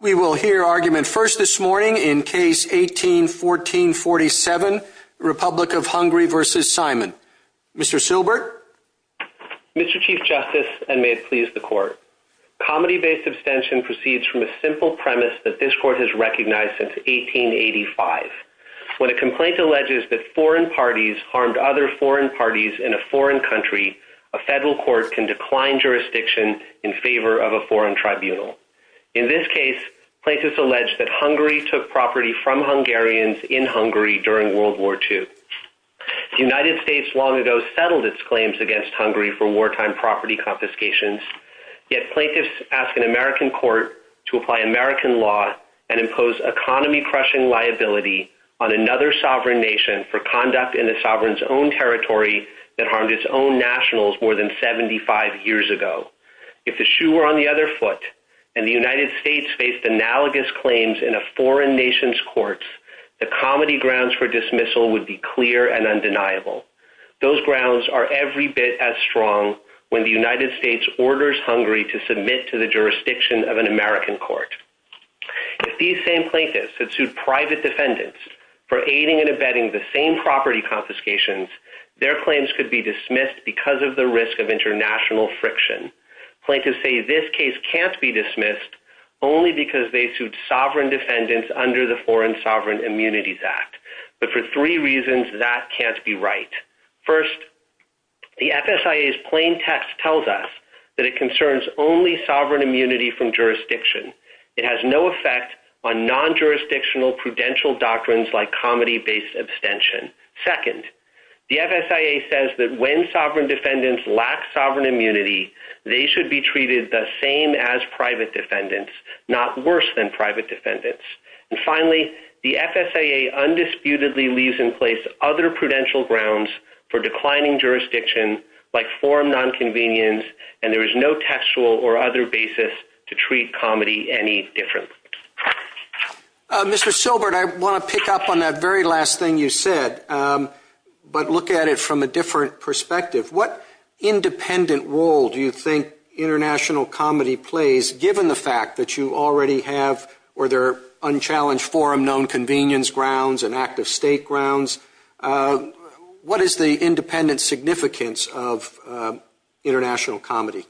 We will hear argument first this morning in Case 18-14-47, Republic of Hungary v. Simon. Mr. Silbert? Mr. Chief Justice, and may it please the Court, comedy-based abstention proceeds from a simple premise that this Court has recognized since 1885. When a complaint alleges that foreign parties harmed other foreign parties in a foreign country, a federal court can decline jurisdiction in favor of a foreign tribunal. In this case, plaintiffs allege that Hungary took property from Hungarians in Hungary during World War II. The United States long ago settled its claims against Hungary for wartime property confiscations, yet plaintiffs ask an American court to apply American law and impose economy-crushing liability on another sovereign nation for conduct in a sovereign's own territory that harmed its own nationals more than 75 years ago. If the shoe were on the other foot, and the United States faced analogous claims in a foreign nation's courts, the comedy grounds for dismissal would be clear and undeniable. Those grounds are every bit as strong when the United States orders Hungary to submit to the jurisdiction of an American court. If these same plaintiffs had sued private defendants for aiding and abetting the same property confiscations, their claims could be dismissed because of the risk of international friction. Plaintiffs say this case can't be dismissed only because they sued sovereign defendants under the Foreign Sovereign Immunities Act, but for three reasons that can't be right. First, the FSIA's plain text tells us that it concerns only sovereign immunity from jurisdiction. It has no effect on non-jurisdictional prudential doctrines like comedy-based abstention. Second, the FSIA says that when sovereign defendants lack sovereign immunity, they should be treated the same as private defendants, not worse than private defendants. And finally, the FSIA undisputedly leaves in place other prudential grounds for declining jurisdiction like forum nonconvenience, and there is no textual or other basis to treat comedy any different. Mr. Silbert, I want to pick up on that very last thing you said, but look at it from a different perspective. What independent role do you think international comedy plays, given the fact that you already have or there are unchallenged forum nonconvenience grounds and active state grounds? What is the independent significance of international comedy?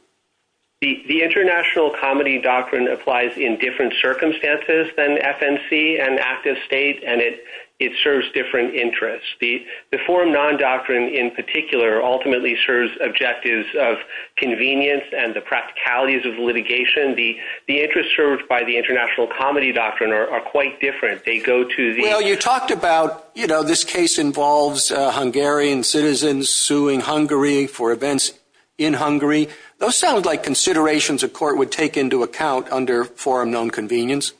The international comedy doctrine applies in different circumstances than FNC and active state, and it serves different interests. The forum non-doctrine in particular ultimately serves objectives of convenience and the practicalities of litigation. The interests served by the international comedy doctrine are quite different. They go to the- Well, you talked about, you know, this case involves Hungarian citizens suing Hungary for events in Hungary. Those sound like considerations a court would take into account under forum nonconvenience.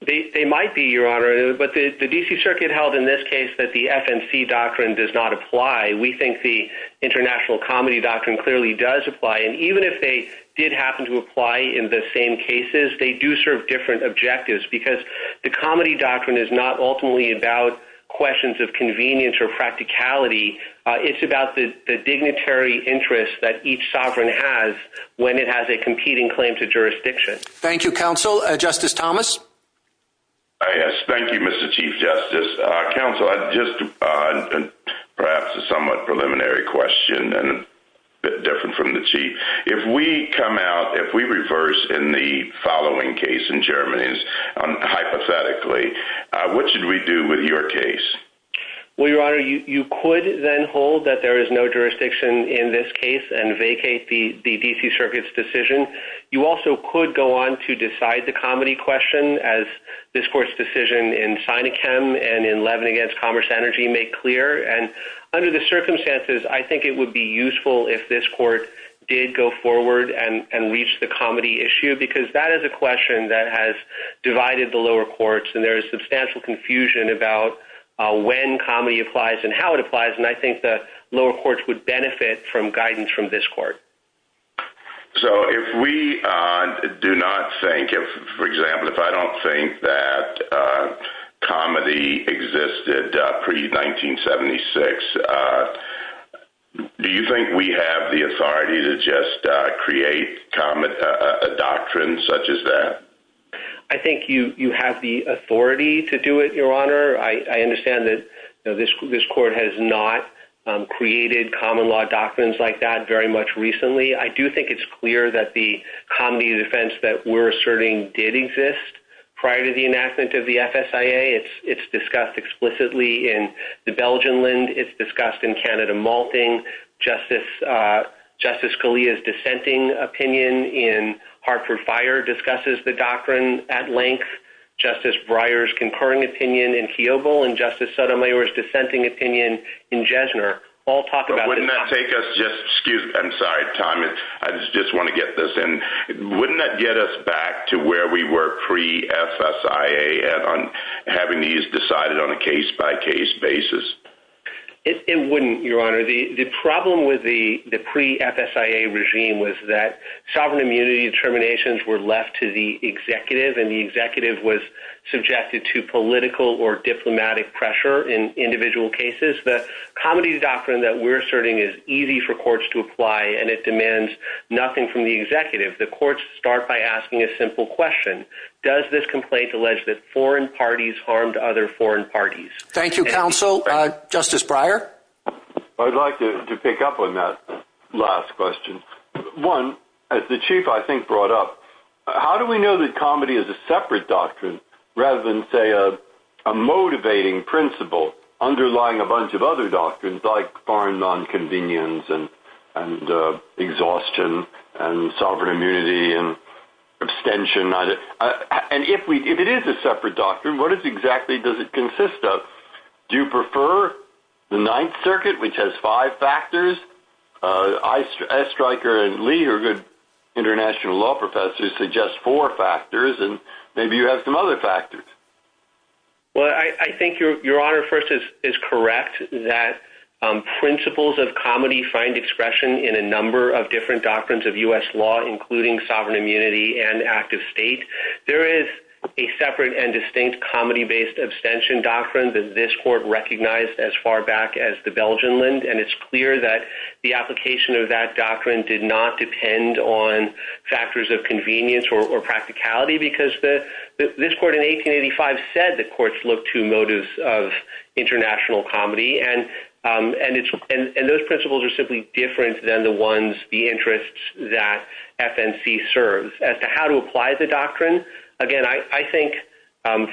They might be, Your Honor, but the D.C. Circuit held in this case that the FNC doctrine does not apply. We think the international comedy doctrine clearly does apply, and even if they did happen to apply in the same cases, they do serve different objectives because the comedy doctrine is not ultimately about questions of convenience or practicality. It's about the dignitary interest that each sovereign has when it has a competing claim to jurisdiction. Thank you, Counsel. Justice Thomas? Yes. Thank you, Mr. Chief Justice. Counsel, just perhaps a somewhat preliminary question and a bit different from the Chief. If we come out, if we reverse in the following case in Germany, hypothetically, what should we do with your case? Well, Your Honor, you could then hold that there is no jurisdiction in this case and vacate the D.C. Circuit's decision. You also could go on to decide the comedy question, as this court's decision in Sinekem and in Levin against Commerce Energy made clear, and under the circumstances, I think it would be useful if this court did go forward and reach the comedy issue because that is a question that has divided the lower courts, and there is substantial confusion about when comedy applies and how it applies, and I think the lower courts would benefit from guidance from this court. So if we do not think, for example, if I don't think that comedy existed pre-1976, do you think we have the authority to just create a doctrine such as that? I think you have the authority to do it, Your Honor. I understand that this court has not created common law doctrines like that very much recently. I do think it's clear that the comedy defense that we're asserting did exist prior to the enactment of the FSIA. It's discussed explicitly in the Belgian Linde. It's discussed in Canada Malting. Justice Scalia's dissenting opinion in Hartford Fire discusses the doctrine at length. Justice Breyer's concurring opinion in Keoghville and Justice Sotomayor's dissenting opinion in Jesner all talk about the doctrine. But wouldn't that take us just, excuse me, I'm sorry, Tom, I just want to get this in. Wouldn't that get us back to where we were pre-FSIA on having these decided on a case-by-case basis? It wouldn't, Your Honor. The problem with the pre-FSIA regime was that sovereign immunity determinations were left to the executive and the executive was subjected to political or diplomatic pressure in individual cases. The comedy doctrine that we're asserting is easy for courts to apply and it demands nothing from the executive. The courts start by asking a simple question. Does this complaint allege that foreign parties harmed other foreign parties? Thank you, counsel. Justice Breyer? I'd like to pick up on that last question. One, as the Chief, I think, brought up, how do we know that comedy is a separate doctrine rather than, say, a motivating principle underlying a bunch of other doctrines like foreign nonconvenience and exhaustion and sovereign immunity and abstention? And if it is a separate doctrine, what exactly does it consist of? Do you prefer the Ninth Circuit, which has five factors? Aistryker and Lee are good international law professors, suggest four factors, and maybe you have some other factors. Well, I think Your Honor, first, is correct that principles of comedy find expression in a number of different doctrines of U.S. law, including sovereign immunity and active state. There is a separate and distinct comedy-based abstention doctrine that this court recognized as far back as the Belgian Linde, and it's clear that the application of that doctrine did not depend on factors of convenience or practicality because this court in 1885 said the courts looked to motives of international comedy, and those principles are simply different than the ones, the interests, that FNC serves. As to how to apply the doctrine, again, I think,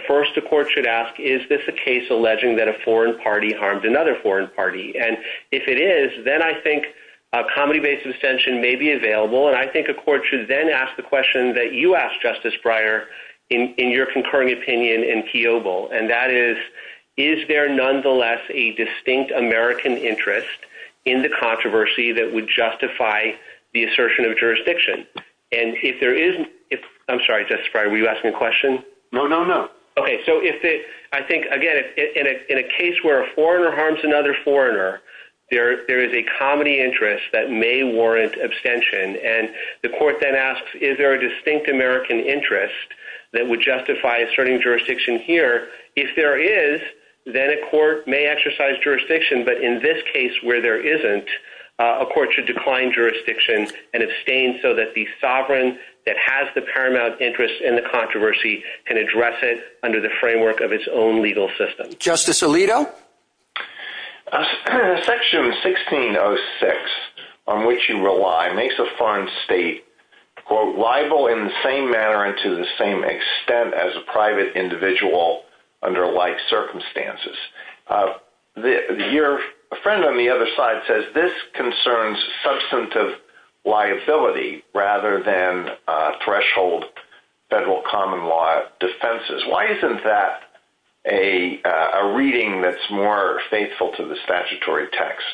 first, the court should ask, is this a case alleging that a foreign party harmed another foreign party? And if it is, then I think a comedy-based abstention may be available, and I think the court should then ask the question that you asked, Justice Breyer, in your concurring opinion in Keoghle, and that is, is there nonetheless a distinct American interest in the controversy that would justify the assertion of jurisdiction? And if there isn't, I'm sorry, Justice Breyer, were you asking a question? No, no, no. Okay. So, I think, again, in a case where a foreigner harms another foreigner, there is a comedy interest that may warrant abstention, and the court then asks, is there a distinct American interest that would justify asserting jurisdiction here? If there is, then a court may exercise jurisdiction, but in this case, where there isn't, a court should decline jurisdiction and abstain so that the sovereign that has the paramount interest in the controversy can address it under the framework of its own legal system. Justice Alito? Section 1606, on which you rely, makes a foreign state, quote, rival in the same manner and to the same extent as a private individual under life circumstances. Your friend on the other side says this concerns substantive liability rather than threshold federal common law defenses. Why isn't that a reading that's more faithful to the statutory text?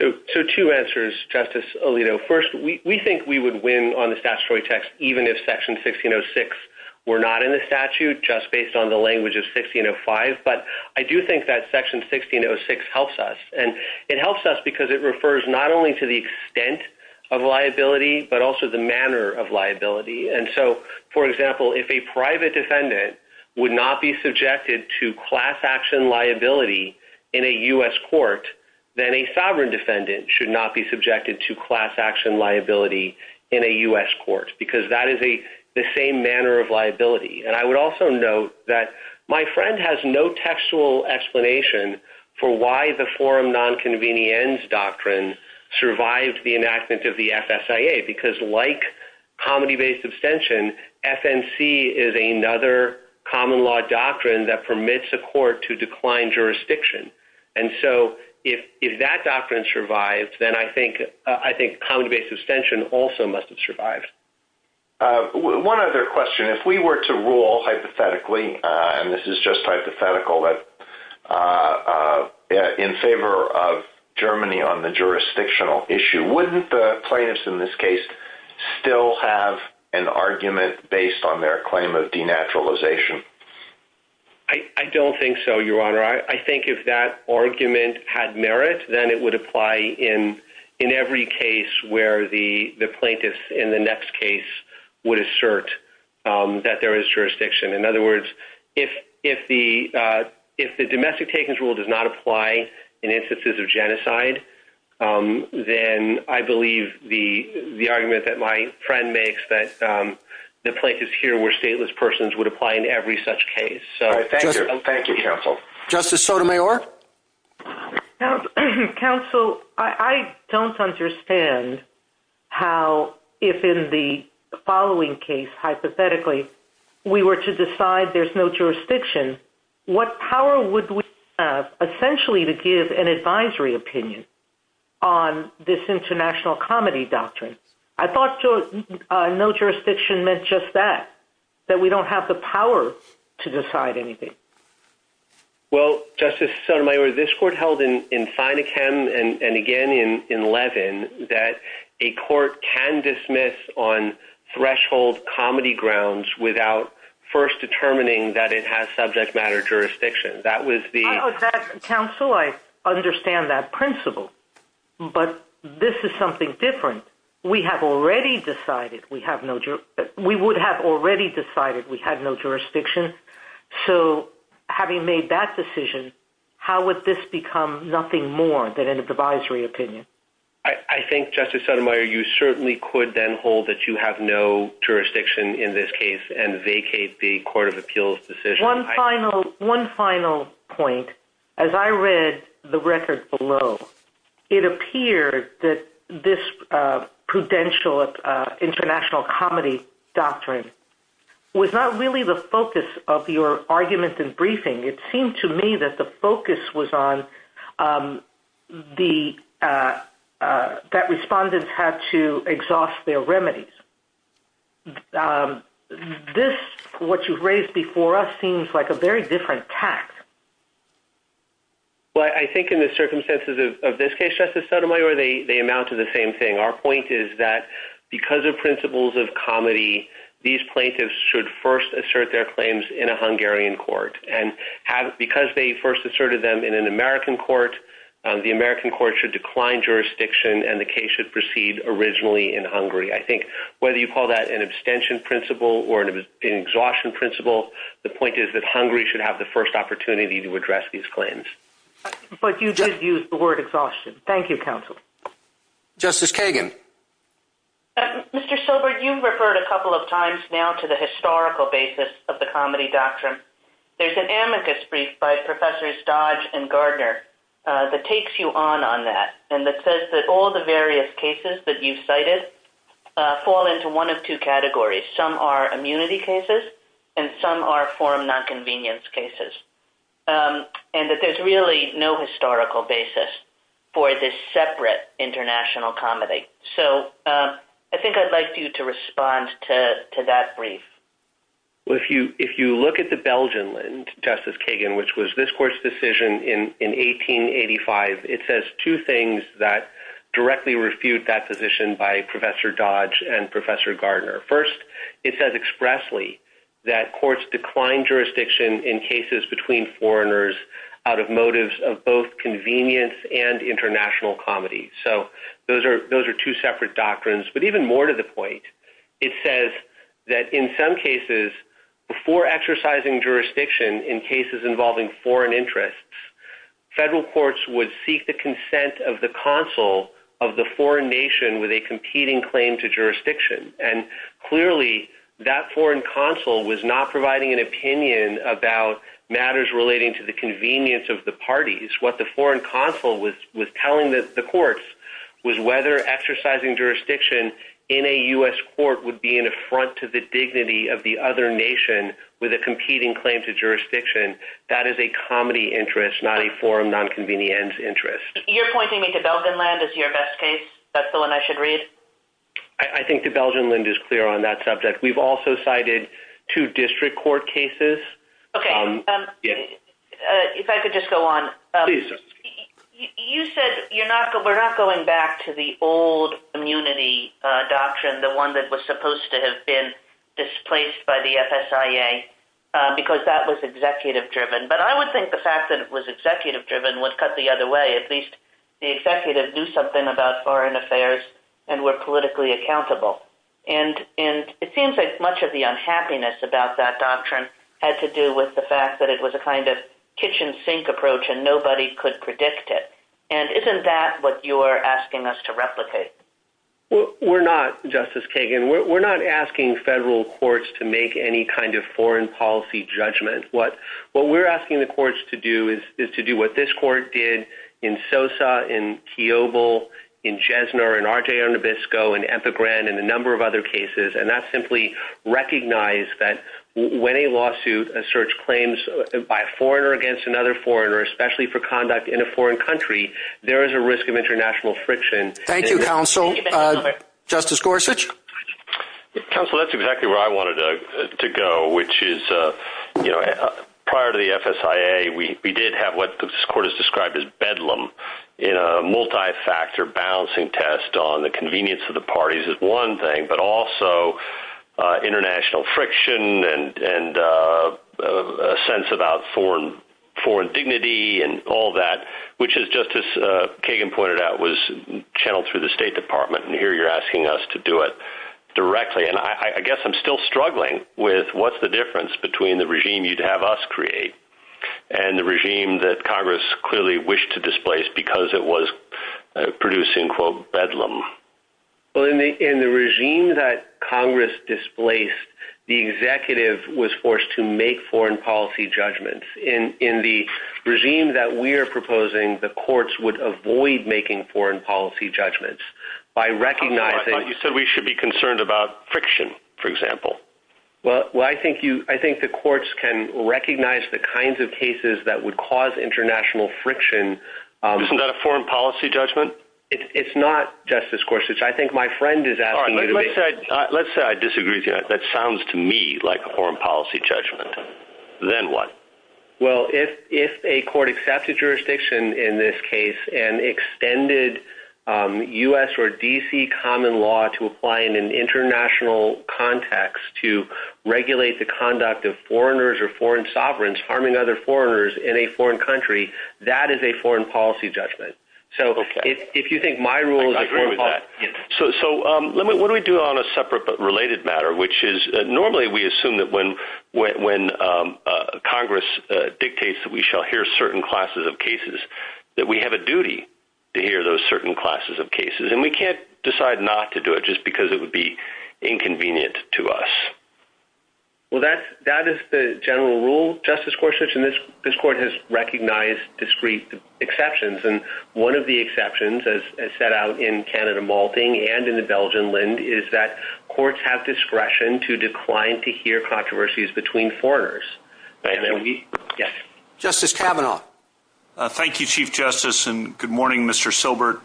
So, two answers, Justice Alito. First, we think we would win on the statutory text even if Section 1606 were not in the statute, just based on the language of 1605, but I do think that Section 1606 helps us, and it helps us because it refers not only to the extent of liability, but also the manner of liability. And so, for example, if a private defendant would not be subjected to class action liability in a U.S. court, then a sovereign defendant should not be subjected to class action liability in a U.S. court, because that is the same manner of liability. And I would also note that my friend has no textual explanation for why the forum non-convenience doctrine survived the enactment of the FSIA, because like comedy-based abstention, FNC is another common law doctrine that permits a court to decline jurisdiction. And so, if that doctrine survives, then I think comedy-based abstention also must have survived. One other question. If we were to rule hypothetically, and this is just hypothetical, in favor of Germany on the jurisdictional issue, wouldn't the plaintiffs in this case still have an argument based on their claim of denaturalization? I don't think so, Your Honor. I think if that argument had merit, then it would apply in every case where the plaintiffs in the next case would assert that there is jurisdiction. In other words, if the domestic takings rule does not apply in instances of genocide, then I believe the argument that my friend makes that the plaintiffs here were stateless persons would apply in every such case. So, thank you. Thank you, counsel. Justice Sotomayor? Counsel, I don't understand how, if in the following case, hypothetically, we were to decide there's no jurisdiction, what power would we have essentially to give an advisory opinion on this international comedy doctrine? I thought no jurisdiction meant just that, that we don't have the power to decide anything. Well, Justice Sotomayor, this court held in Sinachem and again in Levin that a court can dismiss on threshold comedy grounds without first determining that it has subject matter jurisdiction. That was the... Counsel, I understand that principle, but this is something different. We have already decided we have no... We would have already decided we have no jurisdiction. So having made that decision, how would this become nothing more than an advisory opinion? I think, Justice Sotomayor, you certainly could then hold that you have no jurisdiction in this case and vacate the court of appeals decision. One final point, as I read the record below, it appeared that this prudential international comedy doctrine was not really the focus of your argument in briefing. It seemed to me that the focus was on the... That respondents had to exhaust their remedies. This, what you've raised before us, seems like a very different tact. Well, I think in the circumstances of this case, Justice Sotomayor, they amount to the same thing. Our point is that because of principles of comedy, these plaintiffs should first assert their claims in a Hungarian court. And because they first asserted them in an American court, the American court should decline jurisdiction and the case should proceed originally in Hungary. I think whether you call that an abstention principle or an exhaustion principle, the point is that Hungary should have the first opportunity to address these claims. But you did use the word exhaustion. Thank you, counsel. Justice Kagan. Mr. Sober, you've referred a couple of times now to the historical basis of the comedy doctrine. There's an amicus brief by Professors Dodge and Gardner that takes you on on that and that says that all the various cases that you cited fall into one of two categories. Some are immunity cases and some are form nonconvenience cases. And that there's really no historical basis for this separate international comedy. So I think I'd like you to respond to that brief. If you look at the Belgian Justice Kagan, which was this court's decision in 1885, it says two things that directly refute that position by Professor Dodge and Professor Gardner. First, it says expressly that courts decline jurisdiction in cases between foreigners out of motives of both convenience and international comedy. So those are two separate doctrines. But even more to the point, it says that in some cases, before exercising jurisdiction in cases involving foreign interests, federal courts would seek the consent of the consul of the foreign nation with a competing claim to jurisdiction. And clearly, that foreign consul was not providing an opinion about matters relating to the convenience of the parties. What the foreign consul was telling the courts was whether exercising jurisdiction in a U.S. court would be an affront to the dignity of the other nation with a competing claim to jurisdiction. That is a comedy interest, not a form nonconvenience interest. You're pointing me to Belgian land as your best case. That's the one I should read? I think the Belgian land is clear on that subject. We've also cited two district court cases. Okay. If I could just go on. Please do. You said we're not going back to the old immunity doctrine, the one that was supposed to have been displaced by the FSIA, because that was executive driven. But I would think the fact that it was executive driven would cut the other way. At least the executive knew something about foreign affairs and were politically accountable. And it seems like much of the unhappiness about that doctrine had to do with the fact that it was a kind of kitchen sink approach and nobody could predict it. We're not, Justice Kagan. We're not asking federal courts to make any kind of foreign policy judgment. What we're asking the courts to do is to do what this court did in Sosa, in Kiobel, in Jesner, in Argeo Nabisco, in Epigram, and a number of other cases. And that's simply recognize that when a lawsuit asserts claims by a foreigner against another foreigner, especially for conduct in a foreign country, there is a risk of international friction. Thank you, Counsel. Justice Gorsuch? Counsel, that's exactly where I wanted to go, which is, you know, prior to the FSIA, we did have what this court has described as bedlam in a multi-factor balancing test on the convenience of the parties is one thing, but also international friction and a sense about foreign dignity and all that, which is, Justice Kagan pointed out, was channeled through the State Department. And here you're asking us to do it directly. And I guess I'm still struggling with what's the difference between the regime you'd have us create and the regime that Congress clearly wished to displace because it was producing, quote, bedlam. Well, in the regime that Congress displaced, the executive was forced to make foreign policy judgments. In the regime that we are proposing, the courts would avoid making foreign policy judgments by recognizing... But you said we should be concerned about friction, for example. Well, I think the courts can recognize the kinds of cases that would cause international friction... Isn't that a foreign policy judgment? It's not, Justice Gorsuch. I think my friend is asking you to... All right, let's say I disagree with you. That sounds to me like a foreign policy judgment. Then what? Well, if a court accepted jurisdiction in this case and extended U.S. or D.C. common law to apply in an international context to regulate the conduct of foreigners or foreign sovereigns harming other foreigners in a foreign country, that is a foreign policy judgment. So if you think my rule is a foreign policy... I agree with that. So what do we do on a separate but related matter, which is normally we assume that when Congress dictates that we shall hear certain classes of cases, that we have a duty to hear those certain classes of cases. And we can't decide not to do it just because it would be inconvenient to us. Well, that is the general rule, Justice Gorsuch, and this court has recognized discrete exceptions. And one of the exceptions, as set out in Canada Malting and in the Belgian Linde, is that courts have discretion to decline to hear controversies between foreigners. Justice Kavanaugh. Thank you, Chief Justice, and good morning, Mr. Silbert.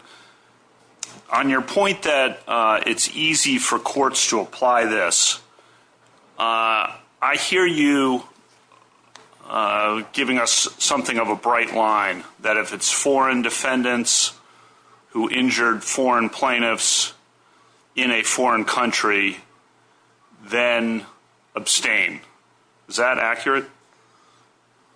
On your point that it's easy for courts to apply this, I hear you giving us something of a bright line that if it's foreign defendants who injured foreign plaintiffs in a foreign country, then abstain. Is that accurate?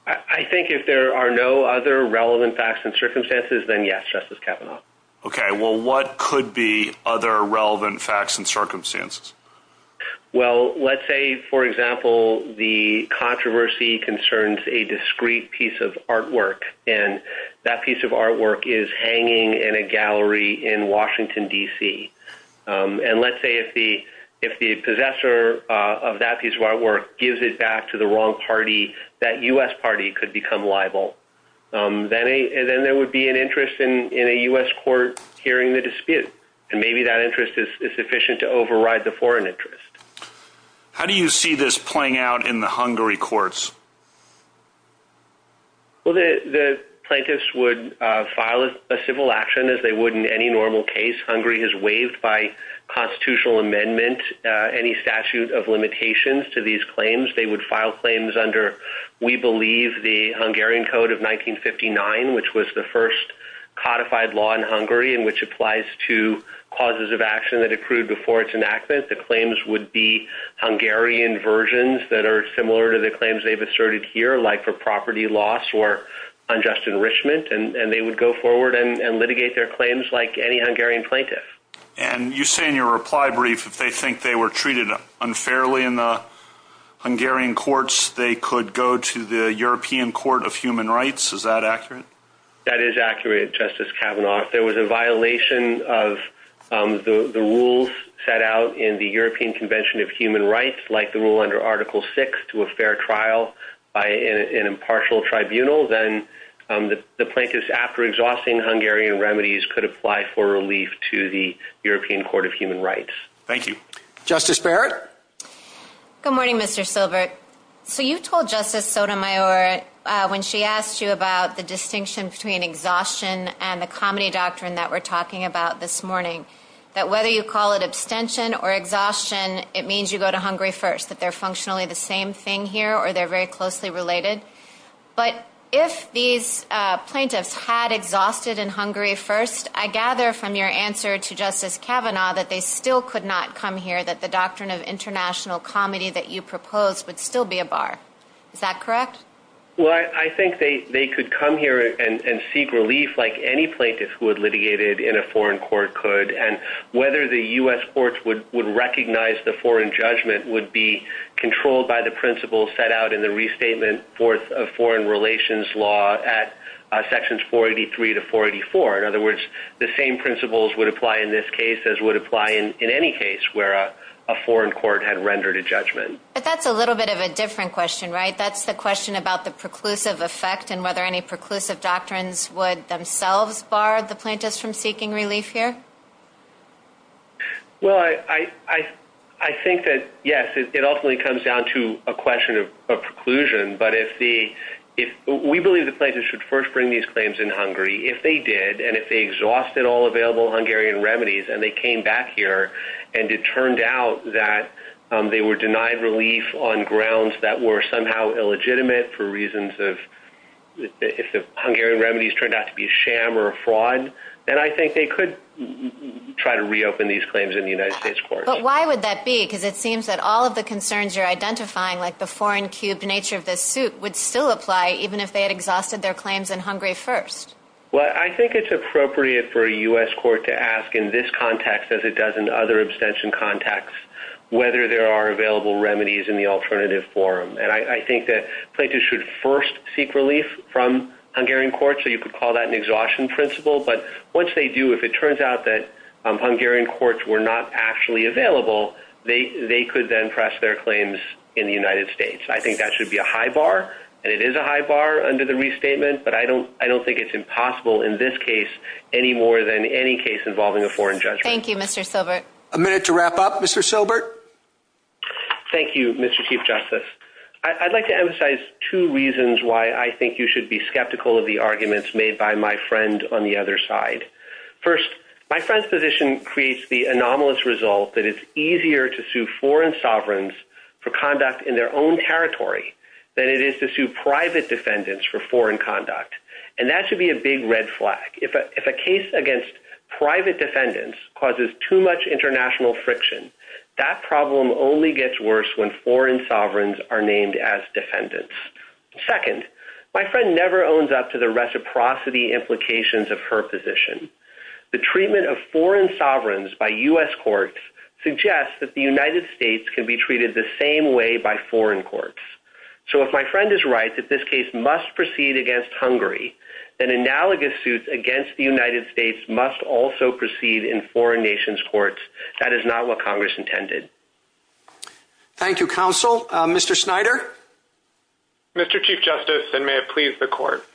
I think if there are no other relevant facts and circumstances, then yes, Justice Kavanaugh. Okay, well, what could be other relevant facts and circumstances? Well, let's say, for example, the controversy concerns a discrete piece of artwork. And that piece of artwork is hanging in a gallery in Washington, D.C. And let's say if the possessor of that piece of artwork gives it back to the wrong party, that U.S. party could become liable. Then there would be an interest in a U.S. court hearing the dispute. And maybe that interest is sufficient to override the foreign interest. How do you see this playing out in the Hungary courts? Well, the plaintiffs would file a civil action as they would in any normal case. Hungary has waived by constitutional amendment any statute of limitations to these claims. They would file claims under, we believe, the Hungarian Code of 1959, which was the first codified law in Hungary and which applies to causes of action that accrued before its enactment. The claims would be Hungarian versions that are similar to the claims they've already filed. And they would go forward and litigate their claims like any Hungarian plaintiff. And you say in your reply brief that they think they were treated unfairly in the Hungarian courts. They could go to the European Court of Human Rights. Is that accurate? That is accurate, Justice Kavanaugh. If there was a violation of the rules set out in the European Convention of Human Rights, like the rule under Article VI to a fair trial by an impartial tribunal, then the plaintiffs, after exhausting Hungarian remedies, could apply for relief to the European Court of Human Rights. Thank you. Justice Barrett? Good morning, Mr. Silbert. So you told Justice Sotomayor, when she asked you about the distinction between exhaustion and the comedy doctrine that we're talking about this morning, that whether you call it abstention or exhaustion, it means you go to Hungary first, that they're functionally the same thing here or they're very closely related. But if these plaintiffs had exhausted in Hungary first, I gather from your answer to Justice Kavanaugh that they still could not come here, that the doctrine of international comedy that you proposed would still be a bar. Is that correct? Well, I think they could come here and seek relief like any plaintiff who had litigated in a foreign court could. And whether the U.S. courts would recognize the foreign judgment would be controlled by the principles set out in the Restatement of Foreign Relations Law at Sections 483 to 484. In other words, the same principles would apply in this case as would apply in any case where a foreign court had rendered a judgment. But that's a little bit of a different question, right? That's a question about the preclusive effect and whether any preclusive doctrines would themselves bar the plaintiffs from seeking relief here. Well, I think that, yes, it ultimately comes down to a question of preclusion. But if the, we believe the plaintiffs should first bring these claims in Hungary. If they did and if they exhausted all available Hungarian remedies and they came back here and it turned out that they were denied relief on grounds that were somehow illegitimate for reasons of, if the Hungarian remedies turned out to be a sham or a fraud, then I think they could try to reopen these claims in the United States courts. But why would that be? Because it seems that all of the concerns you're identifying, like the foreign cube, the nature of this suit, would still apply even if they had exhausted their claims in Hungary first. Well, I think it's appropriate for a U.S. court to ask in this context as it does in other abstention contexts whether there are available remedies in the alternative forum. And I think that plaintiffs should first seek relief from Hungarian courts. So you could call that an exhaustion principle. But once they do, if it turns out that Hungarian courts were not actually available, they could then press their claims in the United States. I think that should be a high bar. And it is a high bar under the restatement. But I don't think it's impossible in this case any more than any case involving a foreign judgment. Thank you, Mr. Silbert. A minute to wrap up, Mr. Silbert. Thank you, Mr. Chief Justice. I'd like to emphasize two reasons why I think you should be skeptical of the arguments made by my friend on the other side. First, my friend's position creates the anomalous result that it's easier to sue foreign sovereigns for conduct in their own territory than it is to sue private defendants for foreign conduct. And that should be a big red flag. If a case against private defendants causes too much international friction, that problem only gets worse when foreign sovereigns are named as defendants. Second, my friend never owns up to the reciprocity implications of her position. The treatment of foreign sovereigns by U.S. courts suggests that the United States can be treated the same way by foreign courts. So if my friend is right that this case must proceed against Hungary, then analogous suits that is not what Congress intended. Thank you, counsel. Mr. Snyder. Mr. Chief Justice, and may it please the court.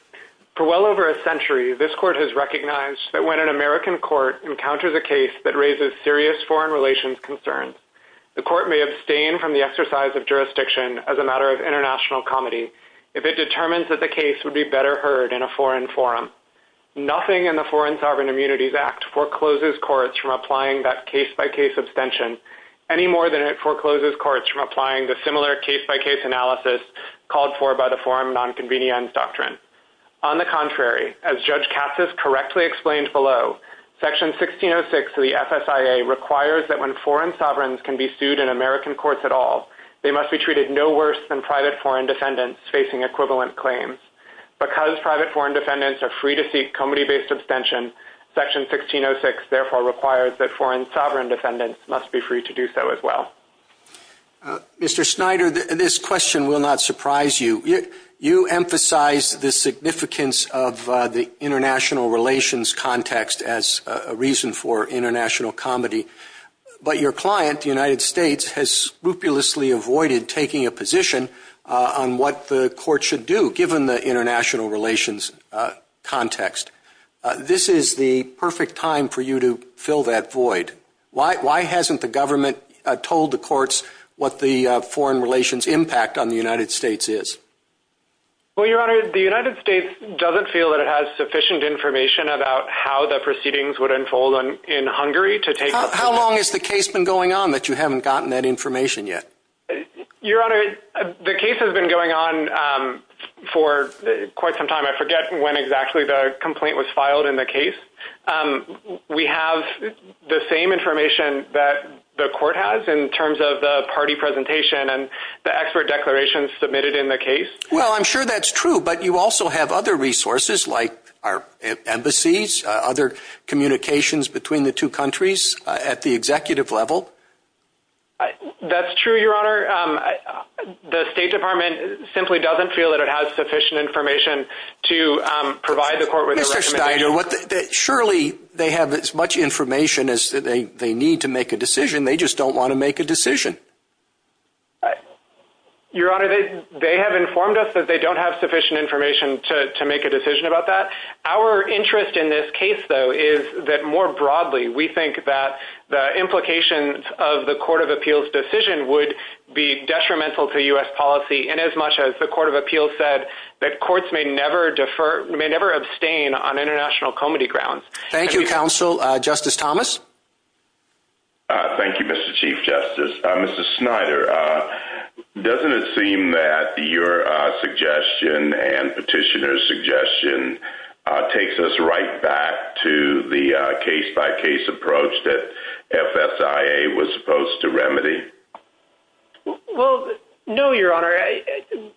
For well over a century, this court has recognized that when an American court encounters a case that raises serious foreign relations concerns, the court may abstain from the exercise of jurisdiction as a matter of international comedy if it determines that the case would be better heard in a foreign forum. Nothing in the Foreign Sovereign Immunities Act forecloses courts from applying that case-by-case abstention any more than it forecloses courts from applying the similar case-by-case analysis called for by the Foreign Nonconvenience Doctrine. On the contrary, as Judge Katsas correctly explained below, Section 1606 of the FSIA requires that when foreign sovereigns can be sued in American courts at all, they must be treated no worse than private foreign defendants facing equivalent claims. Because private foreign defendants are free to seek comedy-based abstention, Section 1606 therefore requires that foreign sovereign defendants must be free to do so as well. Mr. Snyder, this question will not surprise you. You emphasize the significance of the international relations context as a reason for international comedy. But your client, the United States, has scrupulously avoided taking a position on what the court should do, given the international relations context. This is the perfect time for you to fill that void. Why hasn't the government told the courts what the foreign relations impact on the United States is? Well, Your Honor, the United States doesn't feel that it has sufficient information about how the proceedings would unfold in Hungary to take... How long has the case been going on that you haven't gotten that information yet? Your Honor, the case has been going on for quite some time. I forget when exactly the complaint was filed in the case. We have the same information that the court has in terms of the party presentation and the expert declarations submitted in the case. Well, I'm sure that's true, but you also have other resources like our embassies, other communications between the two countries at the executive level. That's true, Your Honor. The State Department simply doesn't feel that it has sufficient information to provide the court with a recommendation. Mr. Snyder, surely they have as much information as they need to make a decision. They just don't want to make a decision. Your Honor, they have informed us that they don't have sufficient information to make a decision about that. Our interest in this case, though, is that more broadly, we think that the implications of the Court of Appeals' decision would be detrimental to U.S. policy inasmuch as the Court of Appeals said that courts may never abstain on international comity grounds. Thank you, counsel. Justice Thomas? Thank you, Mr. Chief Justice. Mr. Snyder, doesn't it seem that your suggestion and Petitioner's suggestion takes us right back to the case-by-case approach that FSIA was supposed to remedy? Well, no, Your Honor.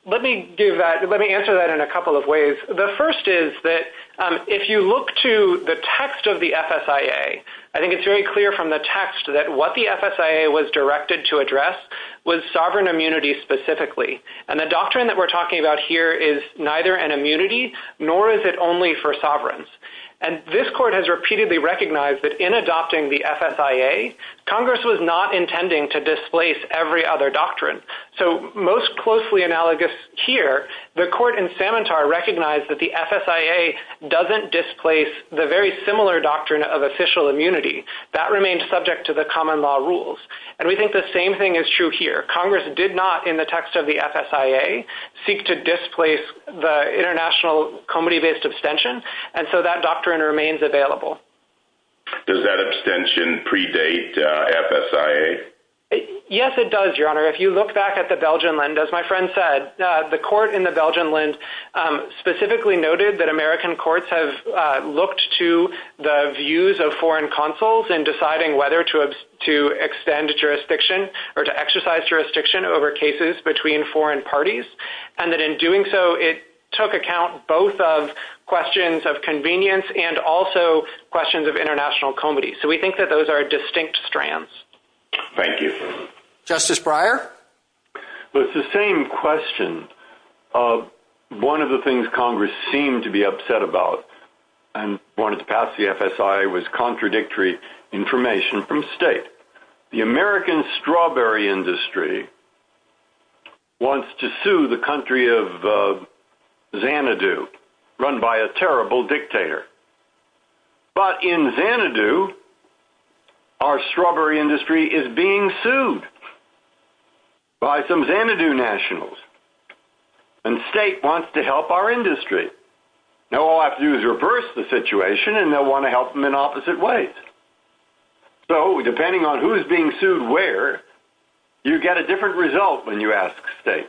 Let me answer that in a couple of ways. The first is that if you look to the text of the FSIA, I think it's very clear from the text that what the FSIA was directed to address was sovereign immunity specifically. Nor is it only for sovereigns. And this court has repeatedly recognized that in adopting the FSIA, Congress was not intending to displace every other doctrine. So most closely analogous here, the court in Samantar recognized that the FSIA doesn't displace the very similar doctrine of official immunity. That remains subject to the common law rules. And we think the same thing is true here. Congress did not, in the text of the FSIA, seek to displace the international comedy-based abstention. And so that doctrine remains available. Does that abstention predate FSIA? Yes, it does, Your Honor. If you look back at the Belgian Lend, as my friend said, the court in the Belgian Lend specifically noted that American courts have looked to the views of foreign consuls in deciding whether to extend jurisdiction or to exercise jurisdiction over cases between foreign parties. And that in doing so, it took account both of questions of convenience and also questions of international comedy. So we think that those are distinct strands. Thank you. Justice Breyer? It's the same question. One of the things Congress seemed to be upset about and wanted to pass the FSIA was contradictory information from state. The American strawberry industry wants to sue the country of Xanadu, run by a terrible dictator. But in Xanadu, our strawberry industry is being sued by some Xanadu nationals. And state wants to help our industry. Now all I have to do is reverse the situation and they'll want to help them in opposite ways. So, depending on who's being sued where, you get a different result when you ask state.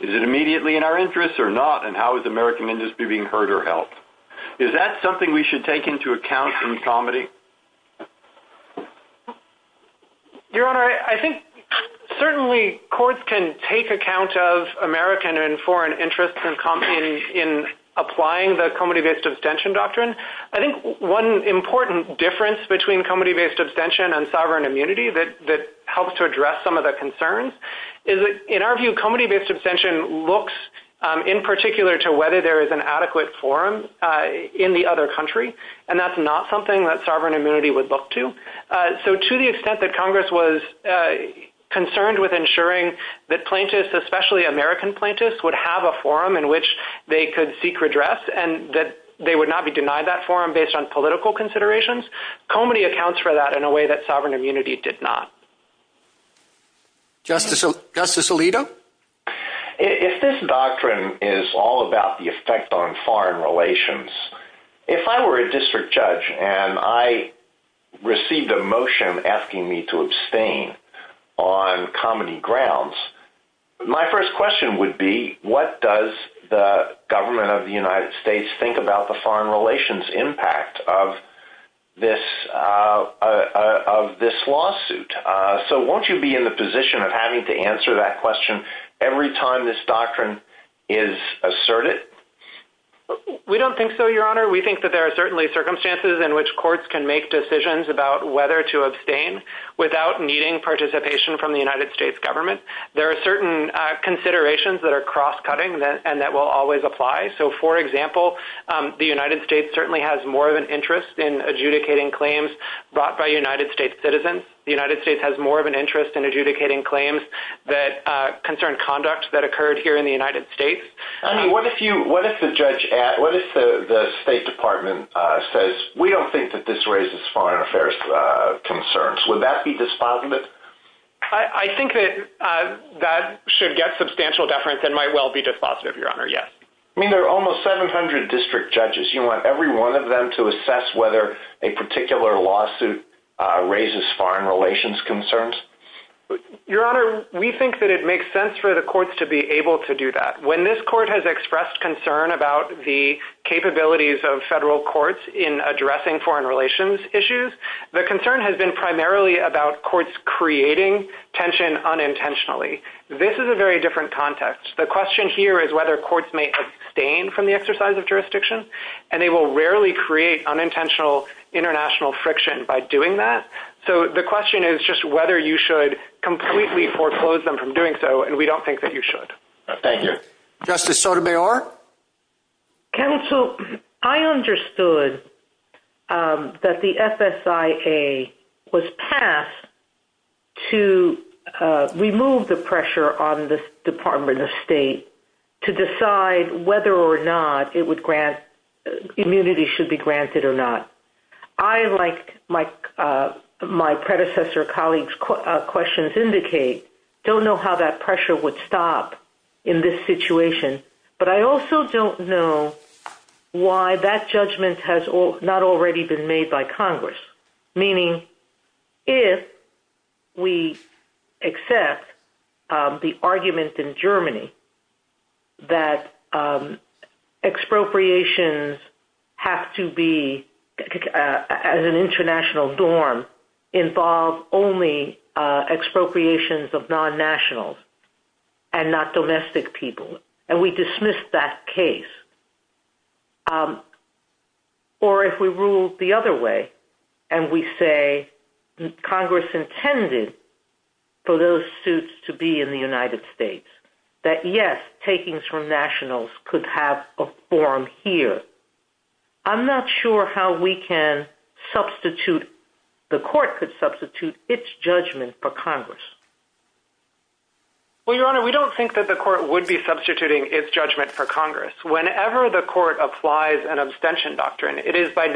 Is it immediately in our interest or not? And how is the American industry being hurt or helped? Is that something we should take into account in comedy? Your Honor, I think certainly courts can take account of American and foreign interests in applying the comedy-based abstention doctrine. I think one important difference between comedy-based abstention and sovereign immunity that helps to address some of the concerns is that, in our view, comedy-based abstention looks in particular to whether there is an adequate forum in the other country. And that's not something that sovereign immunity would look to. So, to the extent that Congress was concerned with ensuring that plaintiffs, especially American plaintiffs, would have a forum in which they could seek redress and that they would not be denied that forum based on political considerations, comedy accounts for that in a way that sovereign immunity did not. Justice Alito? If this doctrine is all about the effect on foreign relations, if I were a district judge and I received a motion asking me to abstain on comedy grounds, my first question would be, what does the government of the United States think about the foreign relations impact of this lawsuit? So, won't you be in the position of having to answer that question every time this doctrine is asserted? We don't think so, Your Honor. We think that there are certainly circumstances in which courts can make decisions about whether to abstain without needing participation from the United States government. There are certain considerations that are cross-cutting and that will always apply. So, for example, the United States certainly has more of an interest in adjudicating claims brought by United States citizens. The United States has more of an interest in adjudicating claims that concern conduct that occurred here in the United States. I mean, what if you, what if the judge at, what if the State Department says, we don't think that this raises foreign affairs concerns? Would that be despondent? I think that that should get substantial deference and might well be despondent, Your Honor, yes. I mean, there are almost 700 district judges. You want every one of them to assess whether a particular lawsuit raises foreign relations concerns? Your Honor, we think that it makes sense for the courts to be able to do that. When this court has expressed concern about the capabilities of federal courts in addressing foreign relations issues, the concern has been primarily about courts creating tension unintentionally. This is a very different context. The question here is whether courts may abstain from the exercise of jurisdiction and they will rarely create unintentional international friction by doing that. So the question is just whether you should completely foreclose them from doing so and we don't think that you should. Thank you. Justice Sotomayor. Counsel, I understood that the FSIA was passed to remove the pressure on the Department of State to decide whether or not immunity should be granted or not. I, like my predecessor colleague's questions indicate, don't know how that pressure would stop in this situation, but I also don't know why that judgment has not already been made by Congress. Meaning if we accept the argument in Germany that expropriations have to be at an international dorm involve only expropriations of non-nationals and not domestic people. And we dismiss that case. Or if we rule the other way and we say Congress intended for those suits to be in the United States, that yes, takings from nationals could have a forum here. I'm not sure how we can substitute, the court could substitute its judgment for Congress. Well, Your Honor, we don't think that the court would be substituting its judgment for Congress. Whenever the court applies an abstention doctrine, it is by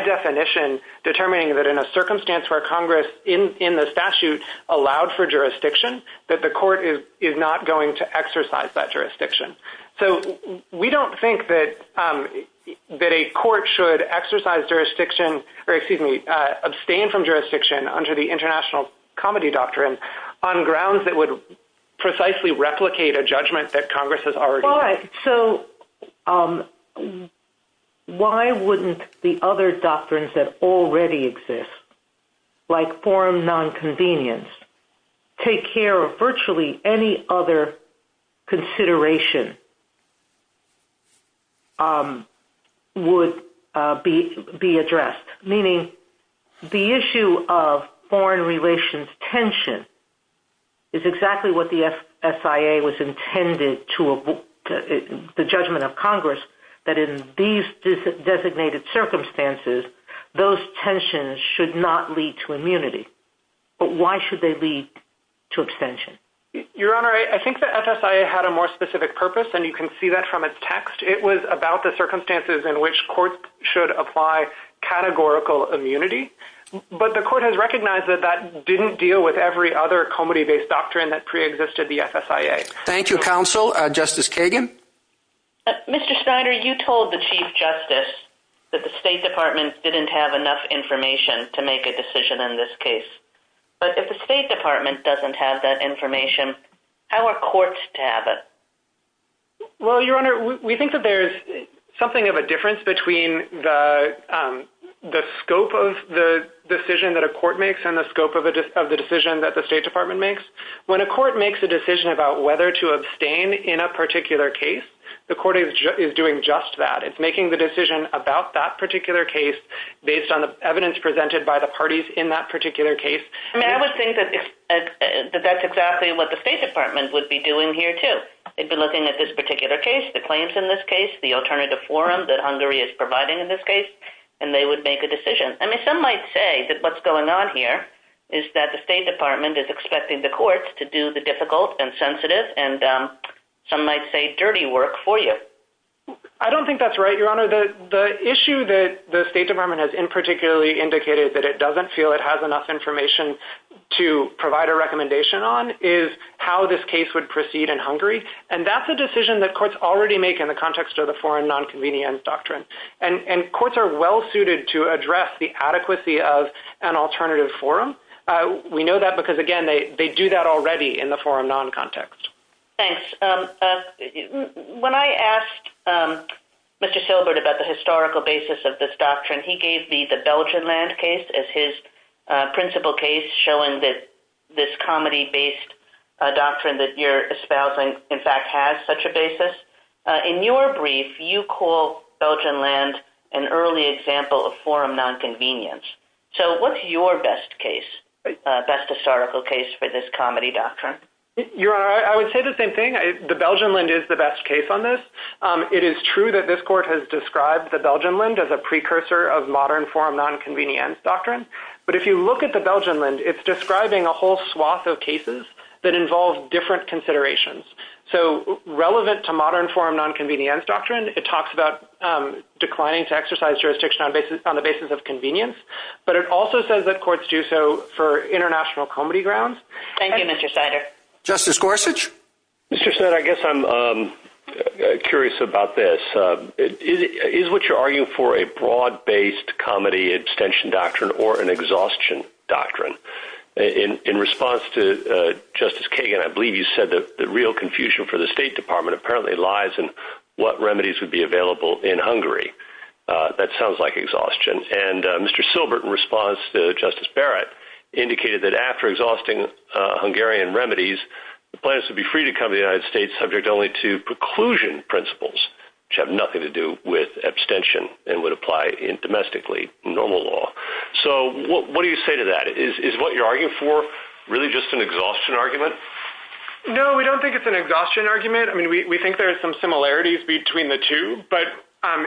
definition determining that in a circumstance where Congress in the statute allowed for jurisdiction, that the court is not going to exercise that jurisdiction. So we don't think that a court should exercise jurisdiction, or excuse me, abstain from jurisdiction under the international comedy doctrine on grounds that would precisely replicate a judgment that Congress has already made. So why wouldn't the other doctrines that already exist, like foreign non-convenience, take care of virtually any other consideration would be addressed? Meaning the issue of foreign relations tension is exactly what the SIA was intended to, the judgment of Congress, that in these designated circumstances, those tensions should not lead to immunity. But why should they lead to abstention? Your Honor, I think the SIA had a more specific purpose, and you can see that from a text. It was about the circumstances in which courts should apply categorical immunity. But the court has recognized that that didn't deal with every other comedy-based doctrine that preexisted the SIA. Thank you, Counsel. Justice Kagan? Mr. Snyder, you told the Chief Justice that the State Department didn't have enough information to make a decision in this case. But if the State Department doesn't have that information, how are courts to have it? Well, Your Honor, we think that there's something of a difference between the scope of the decision that a court makes and the scope of the decision that the State Department makes. When a court makes a decision about whether to abstain in a particular case, the court is doing just that. It's making the decision about that particular case based on the evidence presented by the parties in that particular case. And I would think that that's exactly what the State Department would be doing here, too. It'd be looking at this particular case, the claims in this case, the alternative forum that Hungary is providing in this case, and they would make a decision. I mean, some might say that what's going on here is that the State Department is expecting the courts to do the difficult and sensitive and some might say dirty work for you. I don't think that's right, Your Honor. The issue that the State Department has in particularly indicated that it doesn't feel it has enough information to provide a recommendation on is how this case would proceed in Hungary. And that's a decision that courts already make in the context of the Foreign Nonconvenience Doctrine. And courts are well-suited to address the adequacy of an alternative forum. We know that because again, they do that already in the Foreign Noncontext. Thanks. When I asked Mr. Silbert about the historical basis of this doctrine, he gave me the Belgium land case as his principal case showing that this comedy-based doctrine and that your espousing in fact has such a basis. In your brief, you call Belgian land an early example of forum nonconvenience. So what's your best case, best historical case for this comedy doctrine? Your Honor, I would say the same thing. The Belgian land is the best case on this. It is true that this court has described the Belgian land as a precursor of modern forum nonconvenience doctrine. But if you look at the Belgian land, it's describing a whole swath of cases that involve different considerations. So relevant to modern forum nonconvenience doctrine, it talks about declining to exercise jurisdiction on the basis of convenience, but it also says that courts do so for international comedy grounds. Thank you, Mr. Snyder. Justice Gorsuch. Mr. Snyder, I guess I'm curious about this. Is what you're arguing for a broad-based comedy extension doctrine or an exhaustion doctrine? In response to Justice Kagan, I believe you said that the real confusion for the State Department apparently lies in what remedies would be available in Hungary. That sounds like exhaustion. And Mr. Silbert, in response to Justice Barrett, indicated that after exhausting Hungarian remedies, the plans to be free to come to the United States subject only to preclusion principles, which have nothing to do with abstention and would apply in domestically normal law. So what do you say to that? Is what you're arguing for really just an exhaustion argument? No, we don't think it's an exhaustion argument. I mean, we think there are some similarities between the two, but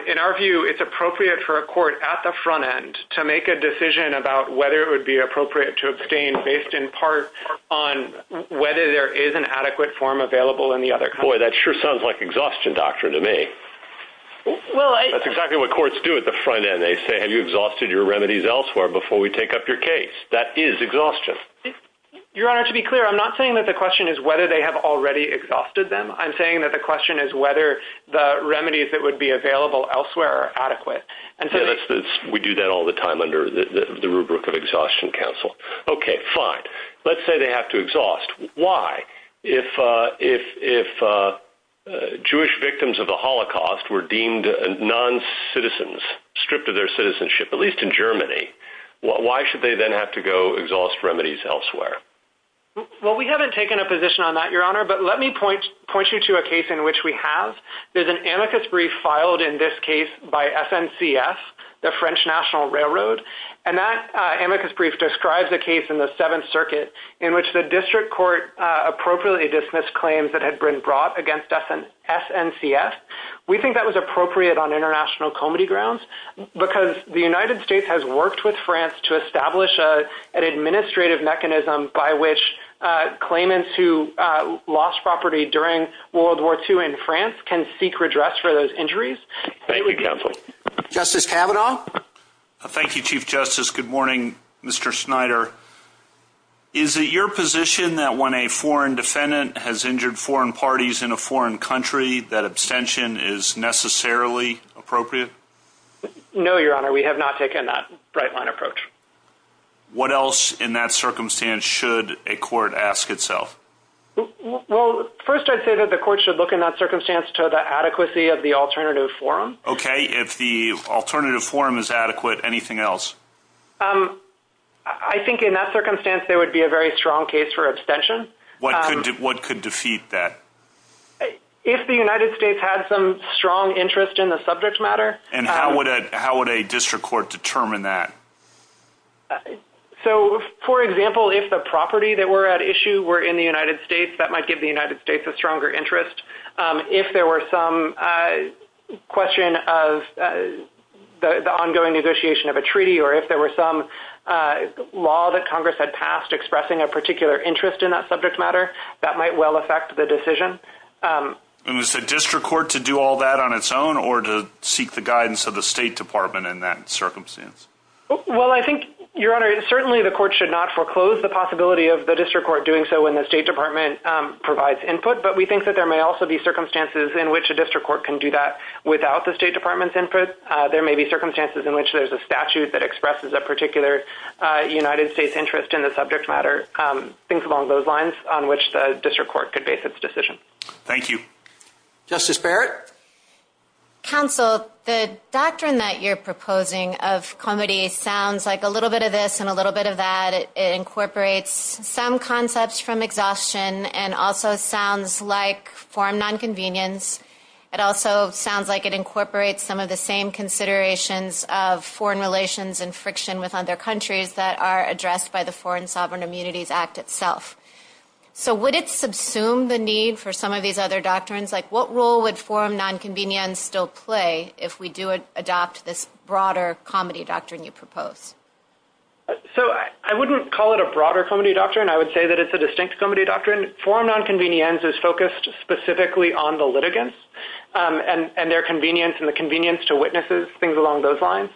in our view, it's appropriate for a court at the front end to make a decision about whether it would be appropriate to abstain based in part on whether there is an adequate form available in the other country. Boy, that sure sounds like exhaustion doctrine to me. That's exactly what courts do at the front end. They say, have you exhausted your remedies elsewhere before we take up your case? That is exhaustion. Your Honor, to be clear, I'm not saying that the question is whether they have already exhausted them. I'm saying that the question is whether the remedies that would be available elsewhere are adequate. And so that's, we do that all the time under the rubric of exhaustion counsel. Okay, fine. Let's say they have to exhaust. Why? If Jewish victims of the Holocaust were deemed non-citizens, stripped of their citizenship, at least in Germany, why should they then have to go exhaust remedies elsewhere? Well, we haven't taken a position on that, Your Honor, but let me point you to a case in which we have. There's an amicus brief filed in this case by SNCS, the French National Railroad. And that amicus brief describes a case in the Seventh Circuit in which the district court appropriately dismissed claims that had been brought against SNCS. We think that was appropriate on international comedy grounds because the United States has worked with France to establish an administrative mechanism by which claimants who lost property during World War II in France can seek redress for those injuries. Thank you, counsel. Justice Kavanaugh. Thank you, Chief Justice. Good morning, Mr. Snyder. Is it your position that when a foreign defendant has injured foreign parties in a foreign country, that abstention is necessarily appropriate? No, Your Honor, we have not taken that right line approach. What else in that circumstance should a court ask itself? Well, first I'd say that the court should look in that circumstance to the adequacy of the alternative forum. Okay, if the alternative forum is adequate, anything else? I think in that circumstance, there would be a very strong case for abstention. What could defeat that? If the United States had some strong interest in the subject matter- And how would a district court determine that? So for example, if the property that were at issue were in the United States, that might give the United States a stronger interest. If there were some question of the ongoing negotiation of a treaty or if there were some law that Congress had passed expressing a particular interest in that subject matter, that might well affect the decision. And is the district court to do all that on its own or to seek the guidance of the State Department in that circumstance? Well, I think, Your Honor, certainly the court should not foreclose the possibility of the district court doing so when the State Department provides input, but we think that there may also be circumstances in which a district court can do that without the State Department's input. There may be circumstances in which there's a statute that expresses a particular United States interest in the subject matter, things along those lines on which the district court could base its decision. Thank you. Justice Barrett? Counsel, the doctrine that you're proposing of comity sounds like a little bit of this and a little bit of that. It incorporates some concepts from exhaustion and also sounds like foreign non-convenience. It also sounds like it incorporates some of the same considerations of foreign relations and friction with other countries that are addressed by the Foreign Sovereign Immunities Act itself. So would it subsume the need for some of these other doctrines? Like what role would foreign non-convenience still play if we do adopt this broader comity doctrine you propose? So I wouldn't call it a broader comity doctrine. I would say that it's a distinct comity doctrine. Foreign non-convenience is focused specifically on the litigants and their convenience and the convenience to witnesses, things along those lines.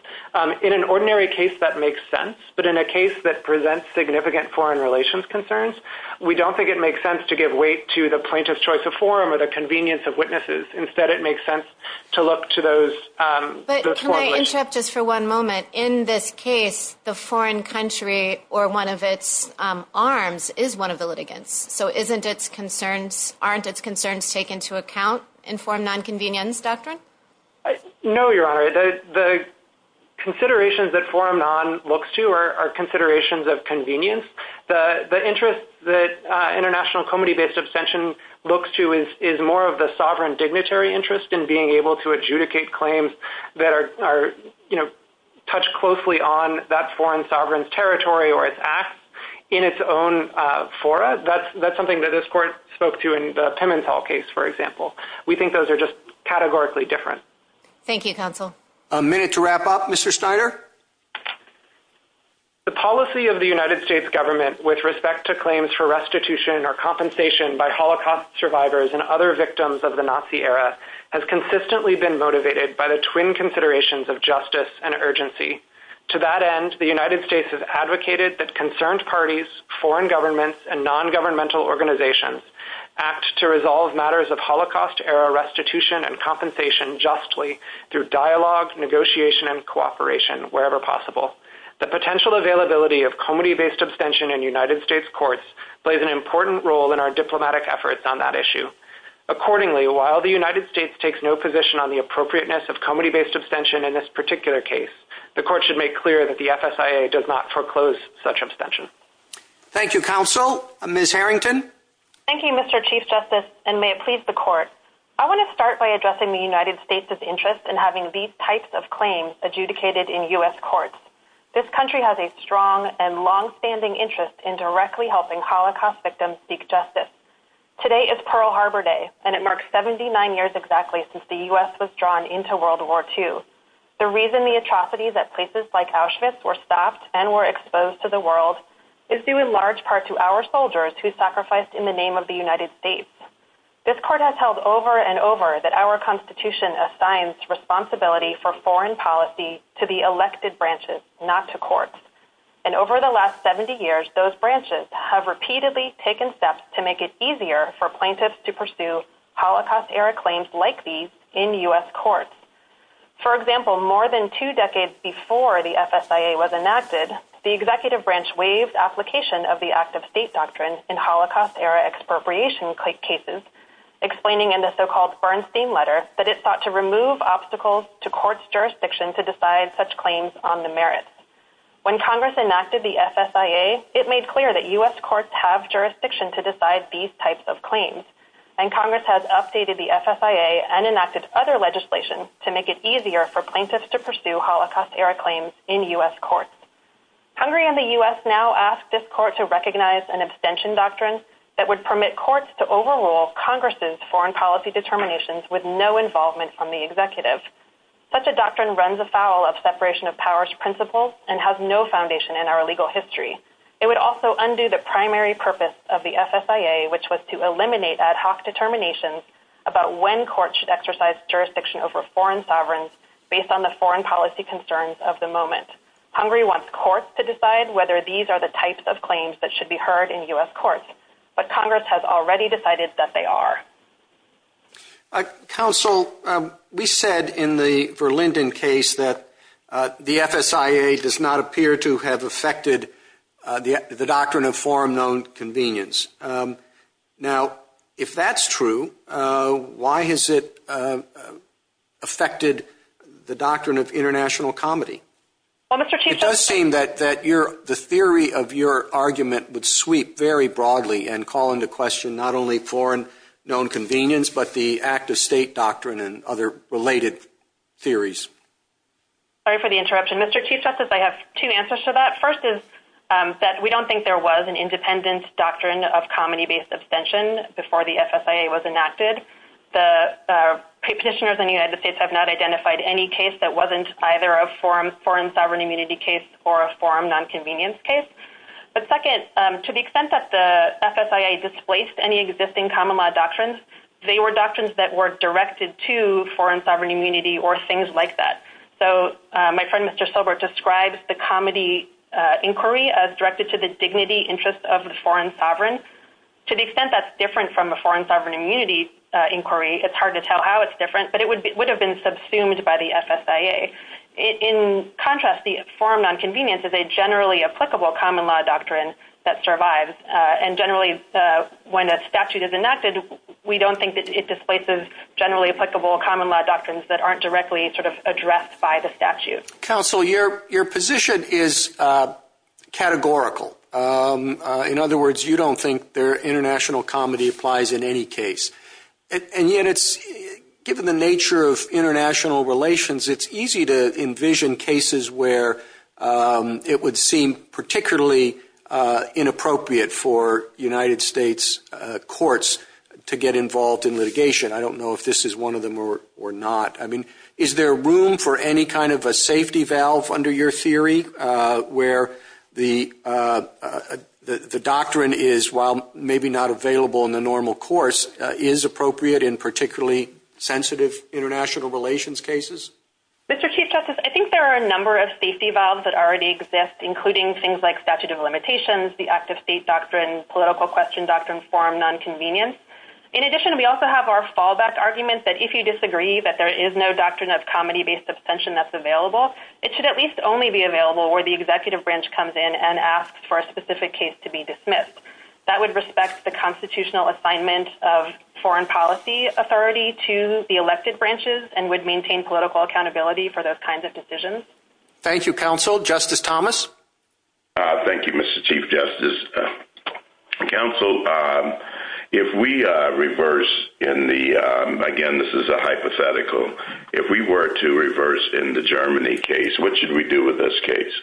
In an ordinary case, that makes sense, but in a case that presents significant foreign relations concerns, we don't think it makes sense to give weight to the plaintiff's choice of forum or the convenience of witnesses. Instead, it makes sense to look to those- But can I interrupt just for one moment? In this case, the foreign country or one of its arms is one of the litigants. So aren't its concerns taken to account in foreign non-convenience doctrine? No, Your Honor. The considerations that forum non looks to are considerations of convenience. The interest that international comity-based abstention looks to is more of the sovereign dignitary interest in being able to adjudicate claims that are touched closely on that foreign sovereign territory or its acts in its own fora. That's something that this court spoke to in the Pimentel case, for example. We think those are just categorically different. Thank you, counsel. A minute to wrap up, Mr. Steiner. The policy of the United States government with respect to claims for restitution or compensation by Holocaust survivors and other victims of the Nazi era has consistently been motivated by the twin considerations of justice and urgency. To that end, the United States has advocated that concerned parties, foreign governments, and non-governmental organizations act to resolve matters of Holocaust era restitution and compensation justly through dialogue, negotiation, and cooperation wherever possible. The potential availability of comity-based abstention in United States courts plays an important role in our diplomatic efforts on that issue. Accordingly, while the United States takes no position on the appropriateness of comity-based abstention in this particular case, the court should make clear that the FSIA does not foreclose such abstention. Thank you, counsel. Ms. Harrington. Thank you, Mr. Chief Justice, and may it please the court. I want to start by addressing the United States' interest in having these types of claims adjudicated in U.S. courts. This country has a strong and longstanding interest in directly helping Holocaust victims seek justice. Today is Pearl Harbor Day, and it marks 79 years exactly since the U.S. was drawn into World War II. The reason the atrocities at places like Auschwitz were stopped and were exposed to the world is due in large part to our soldiers who sacrificed in the name of the United States. This court has held over and over that our Constitution assigns responsibility for foreign policy to the elected branches, not to courts. And over the last 70 years, those branches have repeatedly taken steps to make it easier for plaintiffs to pursue Holocaust-era claims like these in U.S. courts. For example, more than two decades before the FSIA was enacted, the executive branch waived application of the active state doctrine in Holocaust-era expropriation cases, explaining in the so-called Bernstein letter that it sought to remove obstacles to court's jurisdiction to decide such claims on the merits. When Congress enacted the FSIA, it made clear that U.S. courts have jurisdiction to decide these types of claims, and Congress has updated the FSIA and enacted other legislation to make it easier for plaintiffs to pursue Holocaust-era claims in U.S. courts. Hungary and the U.S. now ask this court to recognize an abstention doctrine that would permit courts to overrule Congress's foreign policy determinations with no involvement from the executive. Such a doctrine runs afoul of separation of powers principles and has no foundation in our legal history. It would also undo the primary purpose of the FSIA, which was to eliminate ad hoc determinations about when courts should exercise jurisdiction over foreign sovereigns based on the foreign policy concerns of the moment. Hungary wants courts to decide whether these are the types of claims that should be heard in U.S. courts, but Congress has already decided that they are. Council, we said in the Verlinden case that the FSIA does not appear to have affected the doctrine of foreign known convenience. Now, if that's true, why has it affected the doctrine of international comedy? Well, Mr. Chief Justice- It does seem that the theory of your argument would sweep very broadly and call into question not only foreign known convenience, but the act of state doctrine and other related theories. Sorry for the interruption. Mr. Chief Justice, I have two answers to that. First is that we don't think there was an independent doctrine of comedy-based abstention before the FSIA was enacted. The petitioners in the United States have not identified any case that wasn't either a foreign sovereign immunity case or a foreign nonconvenience case. But second, to the extent that the FSIA displaced any existing common law doctrines, they were doctrines that were directed to foreign sovereign immunity or things like that. So my friend, Mr. Silbert, describes the comedy inquiry as directed to the dignity interest of the foreign sovereign to the extent that's different from the foreign sovereign immunity inquiry. It's hard to tell how it's different, but it would have been subsumed by the FSIA. In contrast, the foreign nonconvenience is a generally applicable common law doctrine that survives. And generally, when a statute is enacted, we don't think that it displaces generally applicable common law doctrines that aren't directly sort of addressed by the statute. Counsel, your position is categorical. In other words, you don't think their international comedy applies in any case. And yet it's, given the nature of international relations, it's easy to envision cases where it would seem particularly inappropriate for United States courts to get involved in litigation. I don't know if this is one of them or not. I mean, is there room for any kind of a safety valve under your theory where the doctrine is, while maybe not available in the normal course, is appropriate in particularly sensitive international relations cases? Mr. Chief Justice, I think there are a number of safety valves that already exist, including things like statute of limitations, the active state doctrine, political question doctrine, forum nonconvenience. In addition, we also have our fallback argument that if you disagree that there is no doctrine of comedy-based abstention that's available, it should at least only be available where the executive branch comes in and asks for a specific case to be dismissed. That would respect the constitutional assignment of foreign policy authority to the elected branches and would maintain political accountability for those kinds of decisions. Thank you, counsel. Justice Thomas. Thank you, Mr. Chief Justice. Counsel, if we reverse in the, again, this is a hypothetical. If we were to reverse in the Germany case, what should we do with this case?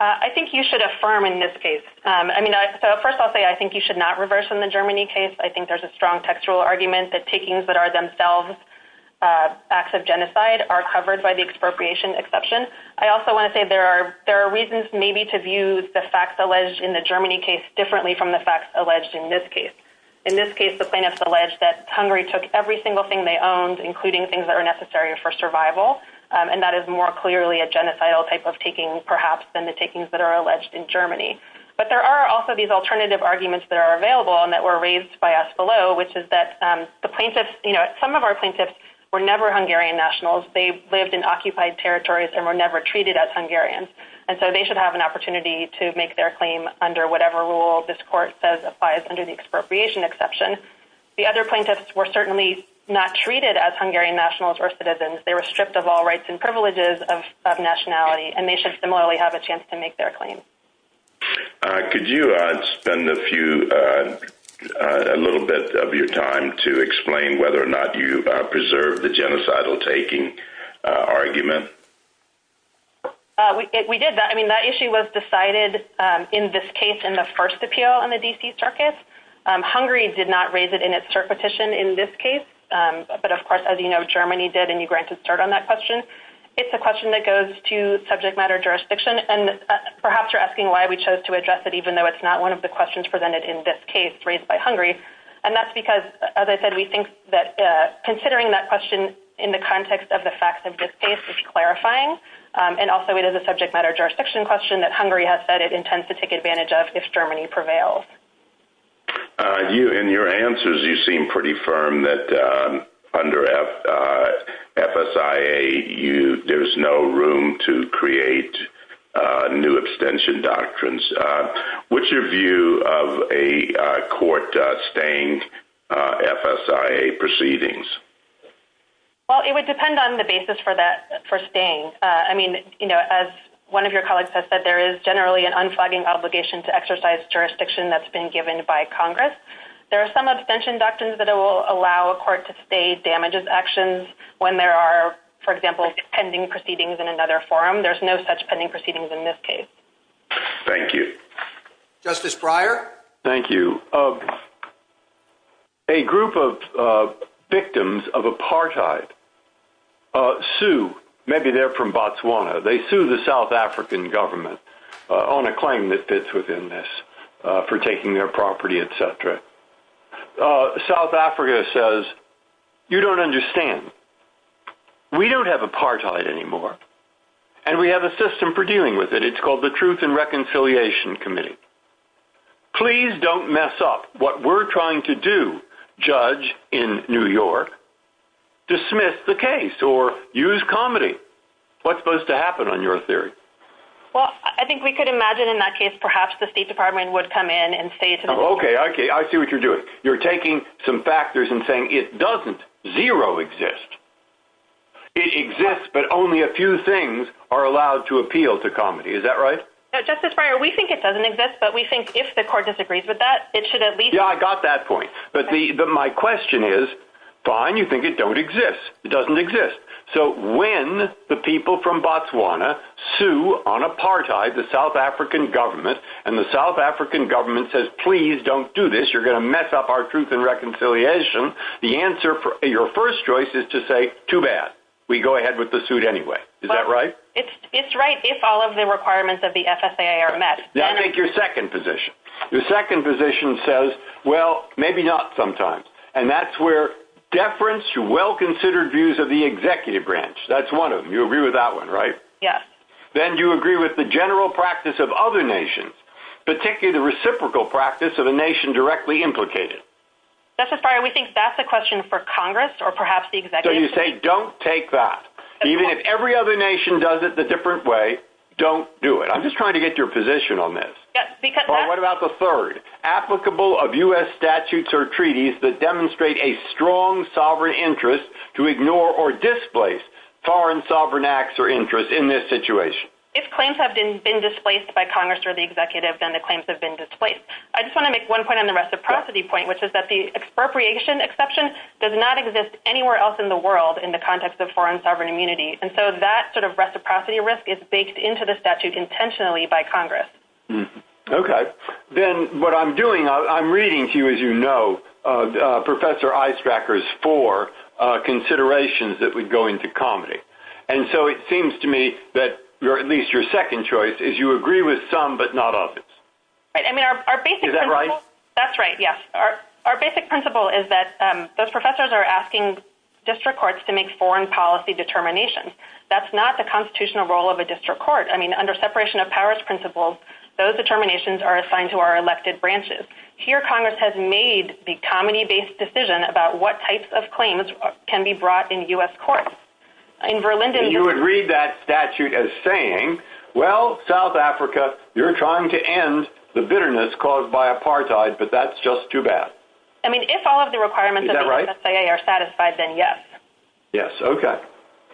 I think you should affirm in this case. I mean, so first I'll say I think you should not reverse in the Germany case. I think there's a strong textual argument that takings that are themselves acts of genocide are covered by the expropriation exception. I also wanna say there are reasons maybe to view the facts alleged in the Germany case differently from the facts alleged in this case. In this case, the plaintiffs alleged that Hungary took every single thing they owned, including things that are necessary for survival. And that is more clearly a genocidal type of taking, perhaps, than the takings that are alleged in Germany. But there are also these alternative arguments that are available and that were raised by us below, which is that the plaintiffs, some of our plaintiffs were never Hungarian nationals. They lived in occupied territories and were never treated as Hungarians. And so they should have an opportunity to make their claim under whatever rule this court says applies under the expropriation exception. The other plaintiffs were certainly not treated as Hungarian nationals or citizens. They were stripped of all rights and privileges of nationality. And they should similarly have a chance to make their claim. Could you spend a few, a little bit of your time to explain whether or not you preserve the genocidal taking argument? We did that. I mean, that issue was decided in this case in the first appeal on the D.C. Circuit. Hungary did not raise it in its cert petition in this case. But of course, as you know, Germany did and you granted cert on that question. It's a question that goes to subject matter jurisdiction and perhaps you're asking why we chose to address it even though it's not one of the questions presented in this case raised by Hungary. And that's because, as I said, we think that considering that question in the context of the facts of this case is clarifying. And also it is a subject matter jurisdiction question that Hungary has said it intends to take advantage of if Germany prevails. You, in your answers, you seem pretty firm that under FSIA, there's no room to create new extension doctrines. What's your view of a court staying FSIA proceedings? Well, it would depend on the basis for staying. I mean, as one of your colleagues has said, there is generally an unflagging obligation to exercise jurisdiction that's been given by Congress. There are some abstention doctrines that will allow a court to stay damages actions when there are, for example, pending proceedings in another forum. There's no such pending proceedings in this case. Thank you. Justice Breyer. Thank you. A group of victims of apartheid sue, maybe they're from Botswana. They sue the South African government on a claim that fits within this for taking their property, et cetera. South Africa says, you don't understand. We don't have apartheid anymore. And we have a system for dealing with it. It's called the Truth and Reconciliation Committee. Please don't mess up what we're trying to do, judge in New York. Dismiss the case or use comedy. What's supposed to happen on your theory? Well, I think we could imagine in that case, perhaps the State Department would come in and say- Okay, I see what you're doing. You're taking some factors and saying, it doesn't zero exist. It exists, but only a few things are allowed to appeal to comedy. Is that right? Justice Breyer, we think it doesn't exist, but we think if the court disagrees with that, it should at least- Yeah, I got that point. But my question is, fine, you think it don't exist. It doesn't exist. So when the people from Botswana sue on apartheid, the South African government, and the South African government says, please don't do this. You're gonna mess up our Truth and Reconciliation. The answer for your first choice is to say, too bad. We go ahead with the suit anyway. Is that right? It's right if all of the requirements of the FSA are met. That makes your second position. Your second position says, well, maybe not sometimes. And that's where deference to well-considered views of the executive branch. That's one of them. You agree with that one, right? Yes. Then you agree with the general practice of other nations, particularly the reciprocal practice of a nation directly implicated. That's a fire. We think that's a question for Congress or perhaps the executive. So you say, don't take that. Even if every other nation does it the different way, don't do it. I'm just trying to get your position on this. Yes, because- What about the third? Applicable of US statutes or treaties that demonstrate a strong sovereign interest to ignore or displace foreign sovereign acts or interests in this situation. If claims have been displaced by Congress or the executive, then the claims have been displaced. I just wanna make one point on the reciprocity point, which is that the expropriation exception does not exist anywhere else in the world in the context of foreign sovereign immunity. And so that sort of reciprocity risk is baked into the statute intentionally by Congress. Okay. Then what I'm doing, I'm reading to you, as you know, Professor Eistraker's four considerations that would go into comedy. And so it seems to me that at least your second choice Right, I mean, our basic- Is that right? That's right, yes. Our basic principle is that those professors are asking district courts to make foreign policy determinations. That's not the constitutional role of a district court. I mean, under separation of powers principles, those determinations are assigned to our elected branches. Here, Congress has made the comedy-based decision about what types of claims can be brought in US courts. In Berlin- You would read that statute as saying, well, South Africa, you're trying to end the bitterness caused by apartheid, but that's just too bad. I mean, if all of the requirements of the MSAA are satisfied, then yes. Yes, okay.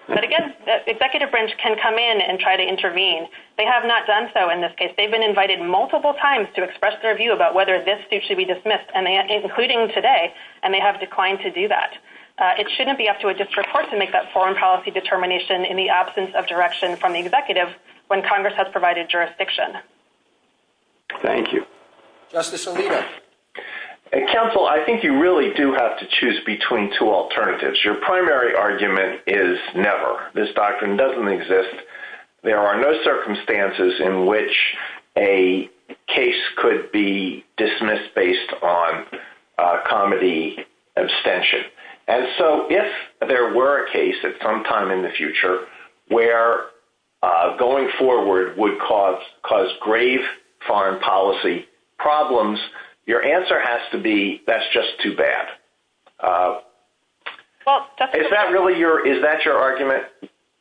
But again, the executive branch can come in and try to intervene. They have not done so in this case. They've been invited multiple times to express their view about whether this suit should be dismissed, including today, and they have declined to do that. It shouldn't be up to a district court to make that foreign policy determination in the absence of direction from the executive when Congress has provided jurisdiction. Thank you. Justice Alito. Counsel, I think you really do have to choose between two alternatives. Your primary argument is never. This doctrine doesn't exist. There are no circumstances in which a case could be dismissed based on comedy abstention. And so if there were a case at some time in the future where going forward would cause grave foreign policy problems, your answer has to be, that's just too bad. Is that really your, is that your argument?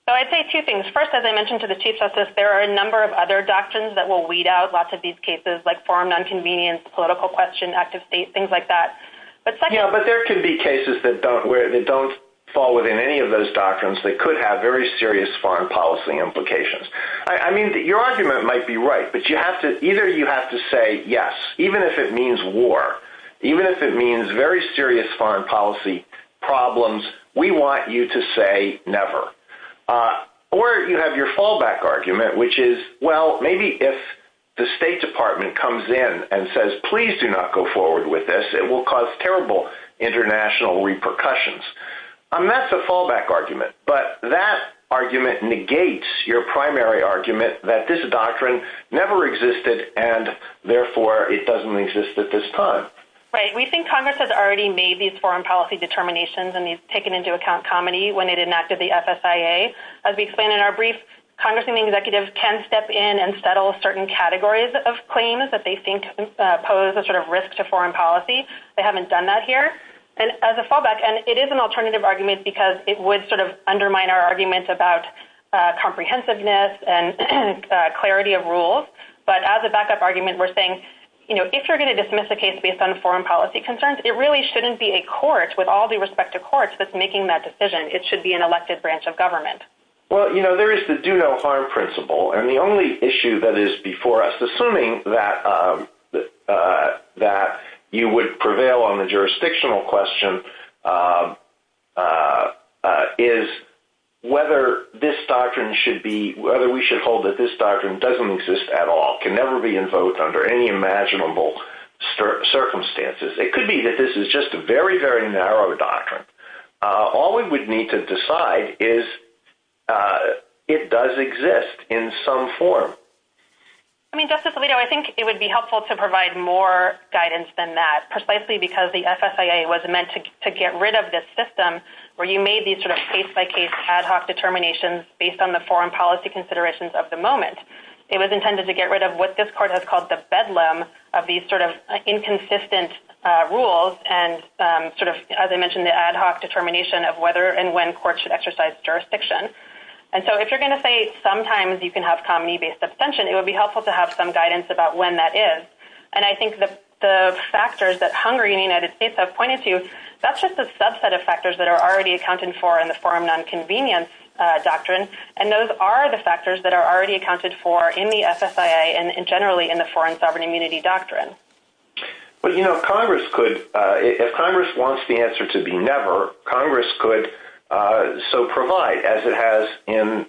I'd say two things. First, as I mentioned to the Chief Justice, there are a number of other doctrines that will weed out lots of these cases like foreign nonconvenience, political question, active state, things like that. But second- Yeah, but there could be cases that don't fall within any of those doctrines that could have very serious foreign policy implications. I mean, your argument might be right, but you have to, either you have to say yes, even if it means war, even if it means very serious foreign policy problems, we want you to say never. Or you have your fallback argument, which is, well, maybe if the State Department comes in and says, please do not go forward with this, it will cause terrible international repercussions. I mean, that's a fallback argument, but that argument negates your primary argument that this doctrine never existed and therefore it doesn't exist at this time. Right, we think Congress has already made these foreign policy determinations and they've taken into account comedy when it enacted the FSIA. As we explained in our brief, Congress and the executives can step in and settle certain categories of claims that they think pose a sort of risk to foreign policy. They haven't done that here. And as a fallback, and it is an alternative argument because it would sort of undermine our argument about comprehensiveness and clarity of rules. But as a backup argument, we're saying, if you're gonna dismiss the case based on foreign policy concerns, it really shouldn't be a court with all due respect to courts that's making that decision. It should be an elected branch of government. Well, there is the do no harm principle. And the only issue that is before us, assuming that you would prevail on the jurisdictional question, is whether this doctrine should be, whether we should hold that this doctrine doesn't exist at all, can never be invoked under any imaginable circumstances. It could be that this is just a very, very narrow doctrine. All we would need to decide is it does exist in some form. I mean, Justice Alito, I think it would be helpful to provide more guidance than that, precisely because the FSIA was meant to get rid of this system where you made these sort of case-by-case ad hoc determinations based on the foreign policy considerations of the moment. It was intended to get rid of what this court has called the bedlam of these sort of inconsistent rules and sort of, as I mentioned, the ad hoc determination of whether and when courts should exercise jurisdiction. And so if you're gonna say sometimes you can have comity-based abstention, it would be helpful to have some guidance about when that is. And I think the factors that Hungary and the United States have pointed to, that's just a subset of factors that are already accounted for in the foreign nonconvenience doctrine. And those are the factors that are already accounted for in the FSIA and generally in the foreign sovereign immunity doctrine. But, you know, Congress could, if Congress wants the answer to be never, Congress could so provide as it has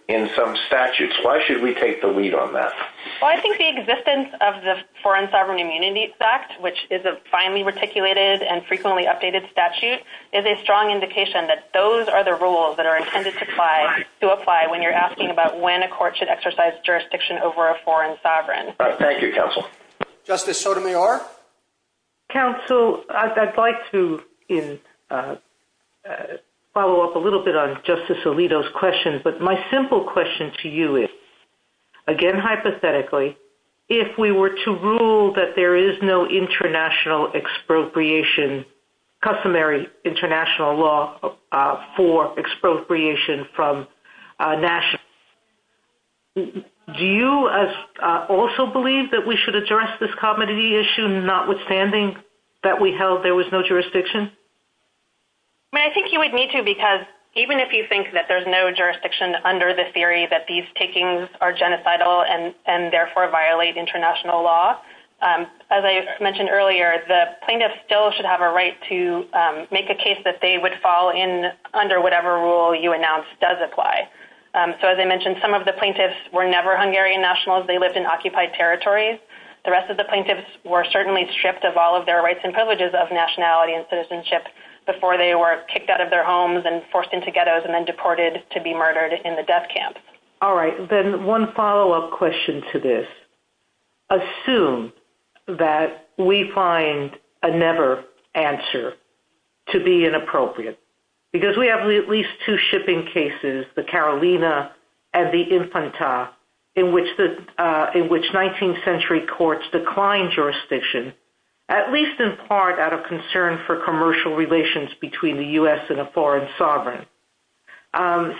in some statutes. Why should we take the lead on that? Well, I think the existence of the Foreign Sovereign Immunity Act, which is a finely reticulated and frequently updated statute, is a strong indication that those are the rules that are intended to apply when you're asking about when a court should exercise jurisdiction over a foreign sovereign. Thank you, counsel. Justice Sotomayor? Counsel, I'd like to follow up a little bit on Justice Alito's questions. But my simple question to you is, again, hypothetically, if we were to rule that there is no international expropriation, customary international law for expropriation from national, do you also believe that we should address this commodity issue, notwithstanding that we held there was no jurisdiction? I mean, I think you would need to, because even if you think that there's no jurisdiction under the theory that these takings are genocidal and therefore violate international law, as I mentioned earlier, the plaintiff still should have a right to make a case that they would fall in under whatever rule you announce does apply. So as I mentioned, some of the plaintiffs were never Hungarian nationals. They lived in occupied territories. The rest of the plaintiffs were certainly stripped of all of their rights and privileges of nationality and citizenship before they were kicked out of their homes and forced into ghettos and then deported to be murdered in the death camps. All right, then one follow-up question to this. Assume that we find a never answer to be inappropriate, because we have at least two shipping cases, the Carolina and the Infanta, in which 19th century courts declined jurisdiction, at least in part out of concern for commercial relations between the U.S. and a foreign sovereign.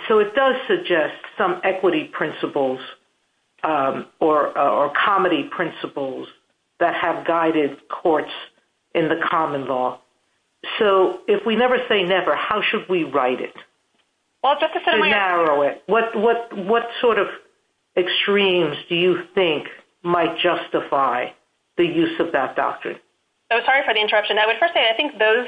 So it does suggest some equity principles or comedy principles that have guided courts in the common law. So if we never say never, how should we write it? To narrow it, what sort of extremes do you think might justify the use of that doctrine? So sorry for the interruption. I would first say, I think those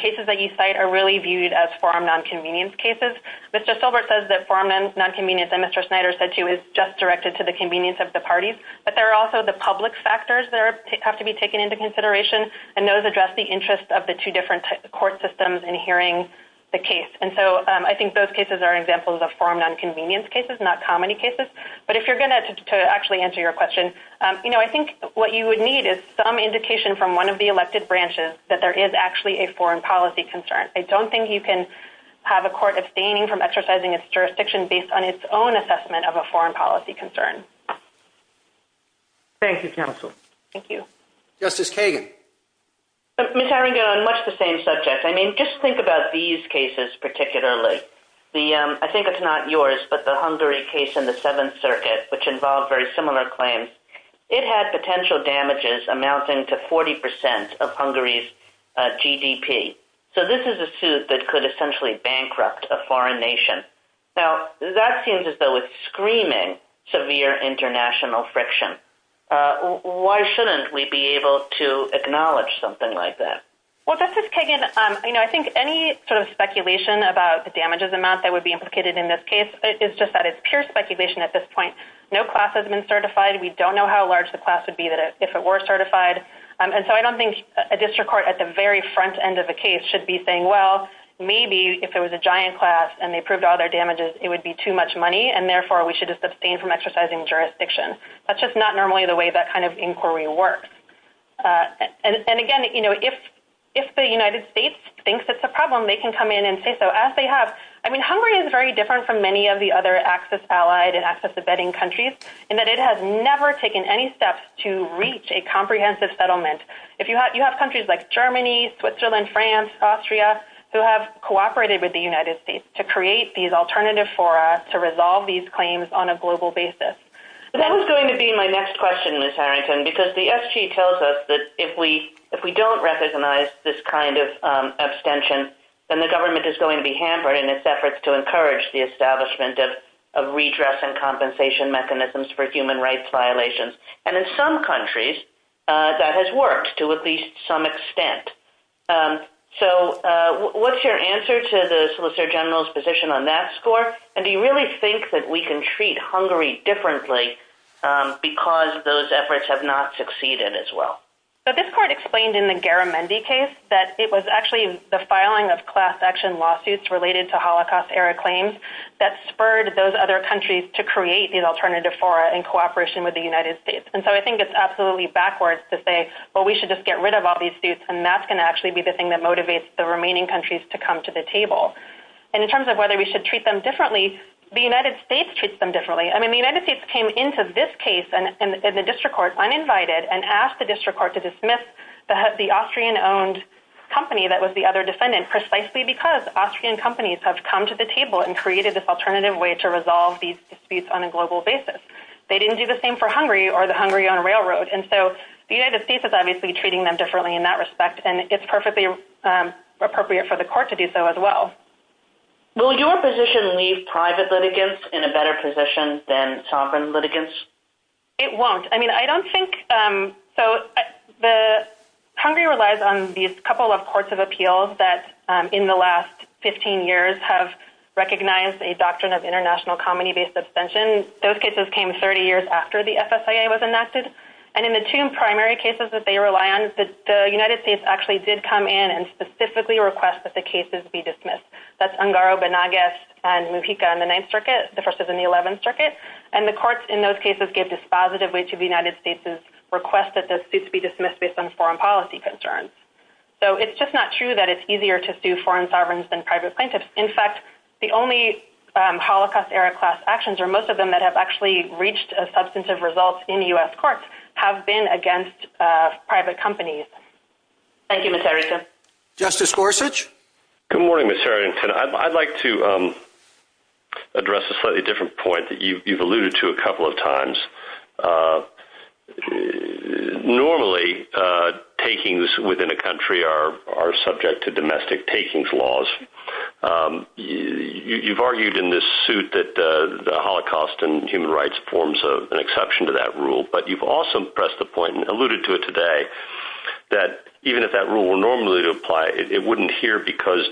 cases that you cite are really viewed as foreign nonconvenience cases. Mr. Silbert says that foreign nonconvenience and Mr. Snyder said too, is just directed to the convenience of the parties, but there are also the public factors that have to be taken into consideration and those address the interests of the two different court systems in hearing the case. And so I think those cases are examples of foreign nonconvenience cases, not comedy cases. But if you're gonna actually answer your question, I think what you would need is some indication from one of the elected branches that there is actually a foreign policy concern. I don't think you can have a court abstaining from exercising its jurisdiction based on its own assessment of a foreign policy concern. Thank you, counsel. Thank you. Justice Kagan. Ms. Arango, on much the same subject. I mean, just think about these cases particularly. I think it's not yours, but the Hungary case in the Seventh Circuit, which involved very similar claims. It had potential damages amounting to 40% of Hungary's GDP. So this is a suit that could essentially bankrupt a foreign nation. Now, that seems as though it's screaming severe international friction. Why shouldn't we be able to acknowledge something like that? Well, Justice Kagan, I think any sort of speculation about the damages amount that would be implicated in this case is just that it's pure speculation at this point. No class has been certified. We don't know how large the class would be if it were certified. And so I don't think a district court at the very front end of the case should be saying, well, maybe if it was a giant class and they proved all their damages, it would be too much money. And therefore we should just abstain from exercising jurisdiction. That's just not normally the way that kind of inquiry works. And again, if the United States thinks it's a problem, they can come in and say so as they have. I mean, Hungary is very different from many of the other access allied and access abetting countries in that it has never taken any steps to reach a comprehensive settlement. If you have countries like Germany, Switzerland, France, Austria, who have cooperated with the United States to create these alternative fora to resolve these claims on a global basis. That was going to be my next question, Ms. Harrington, because the SG tells us that if we don't recognize this kind of abstention, then the government is going to be hampered in its efforts to encourage the establishment of redress and compensation mechanisms for human rights violations. And in some countries that has worked to at least some extent. So what's your answer to the Solicitor General's position on that score? And do you really think that we can treat Hungary differently because those efforts have not succeeded as well? So this court explained in the Garamendi case that it was actually the filing of class action lawsuits related to Holocaust era claims that spurred those other countries to create these alternative fora in cooperation with the United States. And so I think it's absolutely backwards to say, well, we should just get rid of all these suits and that's gonna actually be the thing that motivates the remaining countries to come to the table. And in terms of whether we should treat them differently, the United States treats them differently. I mean, the United States came into this case and the district court uninvited and asked the district court to dismiss the Austrian owned company that was the other defendant precisely because Austrian companies have come to the table and created this alternative way to resolve these disputes on a global basis. They didn't do the same for Hungary or the Hungary on railroad. And so the United States is obviously treating them differently in that respect and it's perfectly appropriate for the court to do so as well. Will your position leave private litigants in a better position than sovereign litigants? It won't. I mean, I don't think, so Hungary relies on these couple of courts of appeal that in the last 15 years have recognized a doctrine of international company-based suspension. Those cases came 30 years after the FSIA was enacted. And in the two primary cases that they rely on, the United States actually did come in and specifically request that the cases be dismissed. That's Ungaro, Banagas and Mujica in the ninth circuit. The first is in the 11th circuit. And the courts in those cases gave this positive way to the United States' request that the suits be dismissed based on foreign policy concerns. So it's just not true that it's easier to sue foreign sovereigns than private plaintiffs. In fact, the only Holocaust-era class actions or most of them that have actually reached a substantive result in US courts have been against private companies. Thank you, Ms. Harrington. Justice Gorsuch? Good morning, Ms. Harrington. I'd like to address a slightly different point that you've alluded to a couple of times. Normally, takings within a country are subject to domestic takings laws. You've argued in this suit that the Holocaust and human rights forms an exception to that rule, but you've also pressed the point and alluded to it today that even if that rule were normally to apply, it wouldn't here because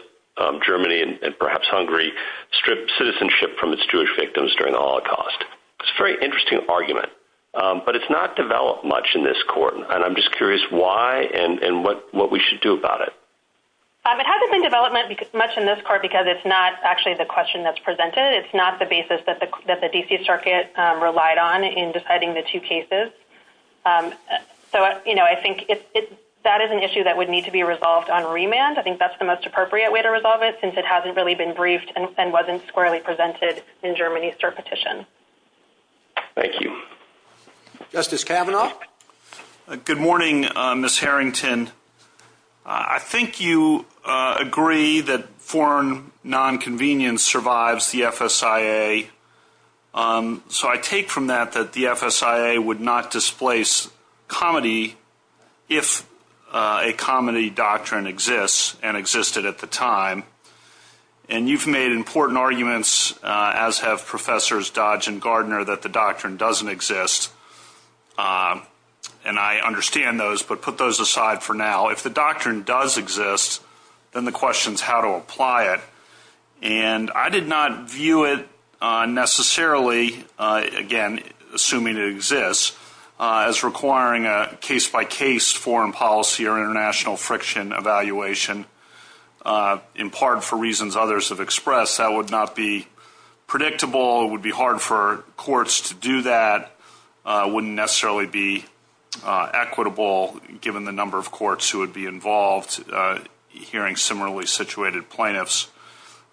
Germany and perhaps Hungary stripped citizenship from its Jewish victims during the Holocaust. It's a very interesting argument, but it's not developed much in this court. And I'm just curious why and what we should do about it. It hasn't been developed much in this court because it's not actually the question that's presented. It's not the basis that the DC Circuit relied on in deciding the two cases. So I think that is an issue that would need to be resolved on remand. I think that's the most appropriate way to resolve it since it hasn't really been briefed and wasn't squarely presented in Germany's petition. Thank you. Justice Kavanaugh? Good morning, Ms. Harrington. I think you agree that foreign non-convenience survives the FSIA. So I take from that that the FSIA would not displace comedy if a comedy doctrine exists and existed at the time. And you've made important arguments, as have Professors Dodge and Gardner, that the doctrine doesn't exist. And I understand those, but put those aside for now. If the doctrine does exist, then the question's how to apply it. And I did not view it necessarily, again, assuming it exists, as requiring a case-by-case foreign policy or international friction evaluation, in part for reasons others have expressed. That would not be predictable. It would be hard for courts to do that. Wouldn't necessarily be equitable, given the number of courts who would be involved hearing similarly situated plaintiffs.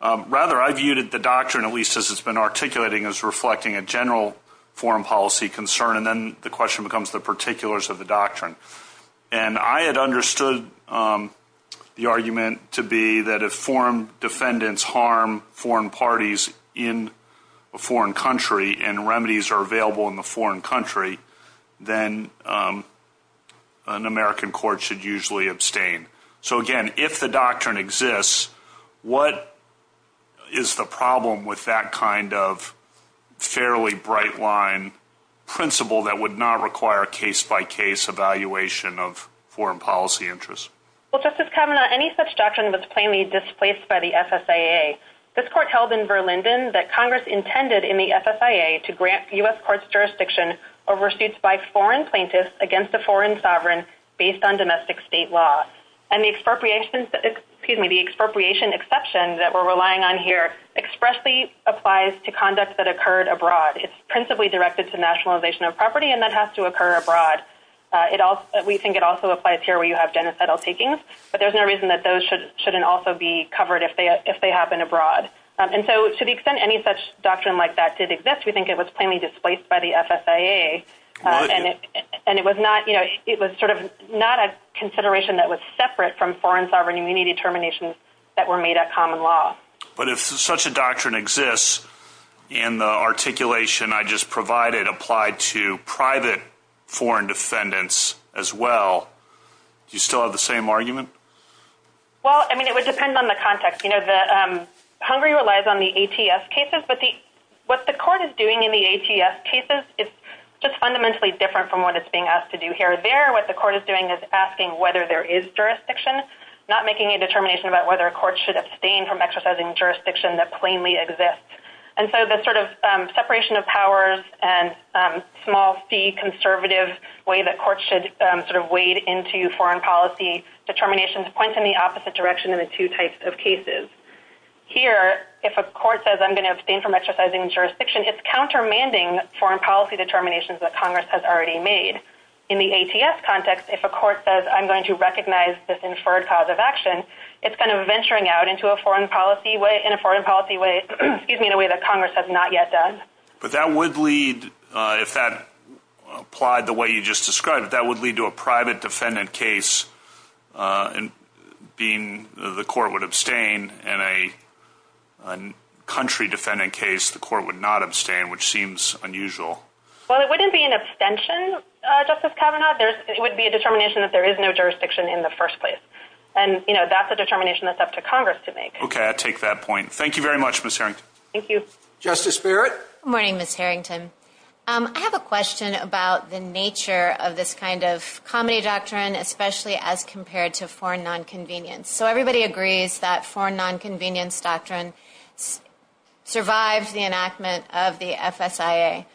Rather, I viewed the doctrine, at least as it's been articulating, as reflecting a general foreign policy concern. And then the question becomes the particulars of the doctrine. And I had understood the argument to be that if foreign defendants harm foreign parties in a foreign country, and remedies are available in the foreign country, then an American court should usually abstain. So again, if the doctrine exists, what is the problem with that kind of fairly bright line principle that would not require a case-by-case evaluation of foreign policy interests? Well, Justice Kavanaugh, any such doctrine was plainly displaced by the FSAA. This court held in Verlinden that Congress intended in the FSAA to grant U.S. courts jurisdiction over suits by foreign plaintiffs against a foreign sovereign based on domestic state law. And the expropriation, excuse me, the expropriation exception that we're relying on here expressly applies to conduct that occurred abroad. It's principally directed to nationalization of property, and that has to occur abroad. We think it also applies here where you have genocidal takings, but there's no reason that those shouldn't also be covered if they happen abroad. And so to the extent any such doctrine like that did exist, we think it was plainly displaced by the FSAA. And it was not, you know, it was sort of not a consideration that was separate from foreign sovereign immunity determinations that were made at common law. But if such a doctrine exists in the articulation I just provided applied to private foreign defendants as well, do you still have the same argument? Well, I mean, it would depend on the context. You know, Hungary relies on the ATS cases, but what the court is doing in the ATS cases is just fundamentally different from what it's being asked to do here or there. What the court is doing is asking whether there is jurisdiction, not making a determination about whether a court should abstain from exercising jurisdiction that plainly exists. And so the sort of separation of powers and small fee conservative way that courts should sort of wade into foreign policy determinations points in the opposite direction in the two types of cases. Here, if a court says, I'm gonna abstain from exercising jurisdiction, it's countermanding foreign policy determinations that Congress has already made. In the ATS context, if a court says, I'm going to recognize this inferred cause of action, it's kind of venturing out into a foreign policy way, in a foreign policy way, excuse me, in a way that Congress has not yet done. But that would lead, if that applied the way you just described, that would lead to a private defendant case and being the court would abstain in a country defendant case, the court would not abstain, which seems unusual. Well, it wouldn't be an abstention, Justice Kavanaugh. It would be a determination that there is no jurisdiction in the first place. And that's a determination that's up to Congress to make. Okay, I take that point. Thank you very much, Ms. Harrington. Thank you. Justice Barrett. Good morning, Ms. Harrington. I have a question about the nature of this kind of comedy doctrine, especially as compared to foreign nonconvenience. So everybody agrees that foreign nonconvenience doctrine survives the enactment of the FSIA.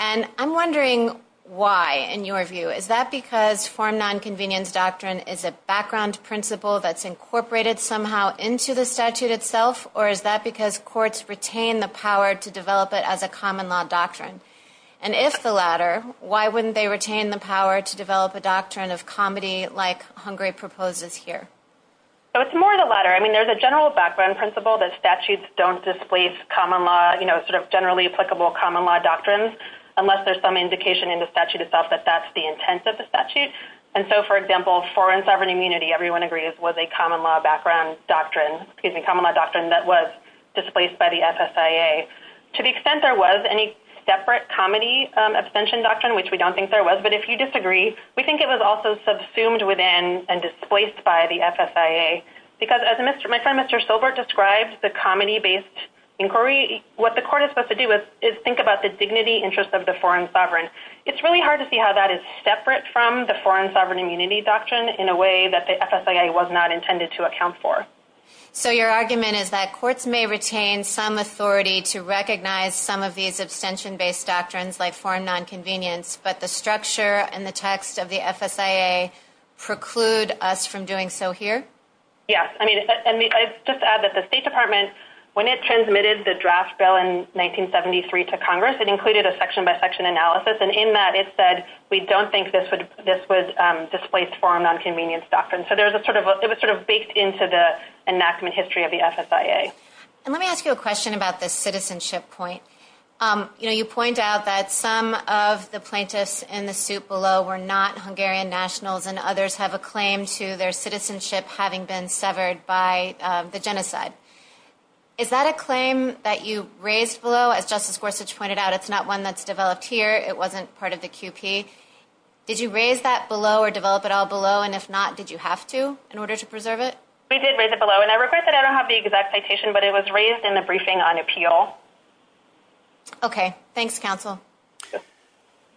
And I'm wondering why, in your view, is that because foreign nonconvenience doctrine is a background principle that's incorporated somehow into the statute itself? Or is that because courts retain the power to develop it as a common law doctrine? And if the latter, why wouldn't they retain the power to develop a doctrine of comedy like Hungary proposes here? So it's more of the latter. I mean, there's a general background principle that statutes don't displace common law, you know, sort of generally applicable common law doctrines, unless there's some indication in the statute itself that that's the intent of the statute. And so, for example, foreign sovereign immunity, everyone agrees, was a common law background doctrine, excuse me, common law doctrine that was displaced by the FSIA. To the extent there was any separate comedy abstention doctrine, which we don't think there was, but if you disagree, we think it was also subsumed within and displaced by the FSIA. Because as my friend Mr. Silbert described, the comedy-based inquiry, what the court is supposed to do is think about the dignity interest of the foreign sovereign. It's really hard to see how that is separate from the foreign sovereign immunity doctrine in a way that the FSIA was not intended to account for. So your argument is that courts may retain some authority to recognize some of these abstention-based doctrines like foreign nonconvenience, but the structure and the text of the FSIA preclude us from doing so here? Yes, I mean, I just add that the State Department, when it transmitted the draft bill in 1973 to Congress, it included a section-by-section analysis. And in that it said, we don't think this would displace foreign nonconvenience doctrine. So it was sort of baked into the enactment history of the FSIA. And let me ask you a question about the citizenship point. You point out that some of the plaintiffs in the suit below were not Hungarian nationals and others have a claim to their citizenship having been severed by the genocide. Is that a claim that you raised below? As Justice Gorsuch pointed out, it's not one that's developed here. It wasn't part of the QP. Did you raise that below or develop it all below? And if not, did you have to in order to preserve it? We did raise it below. And I regret that I don't have the exact citation, but it was raised in the briefing on appeal. Okay, thanks counsel.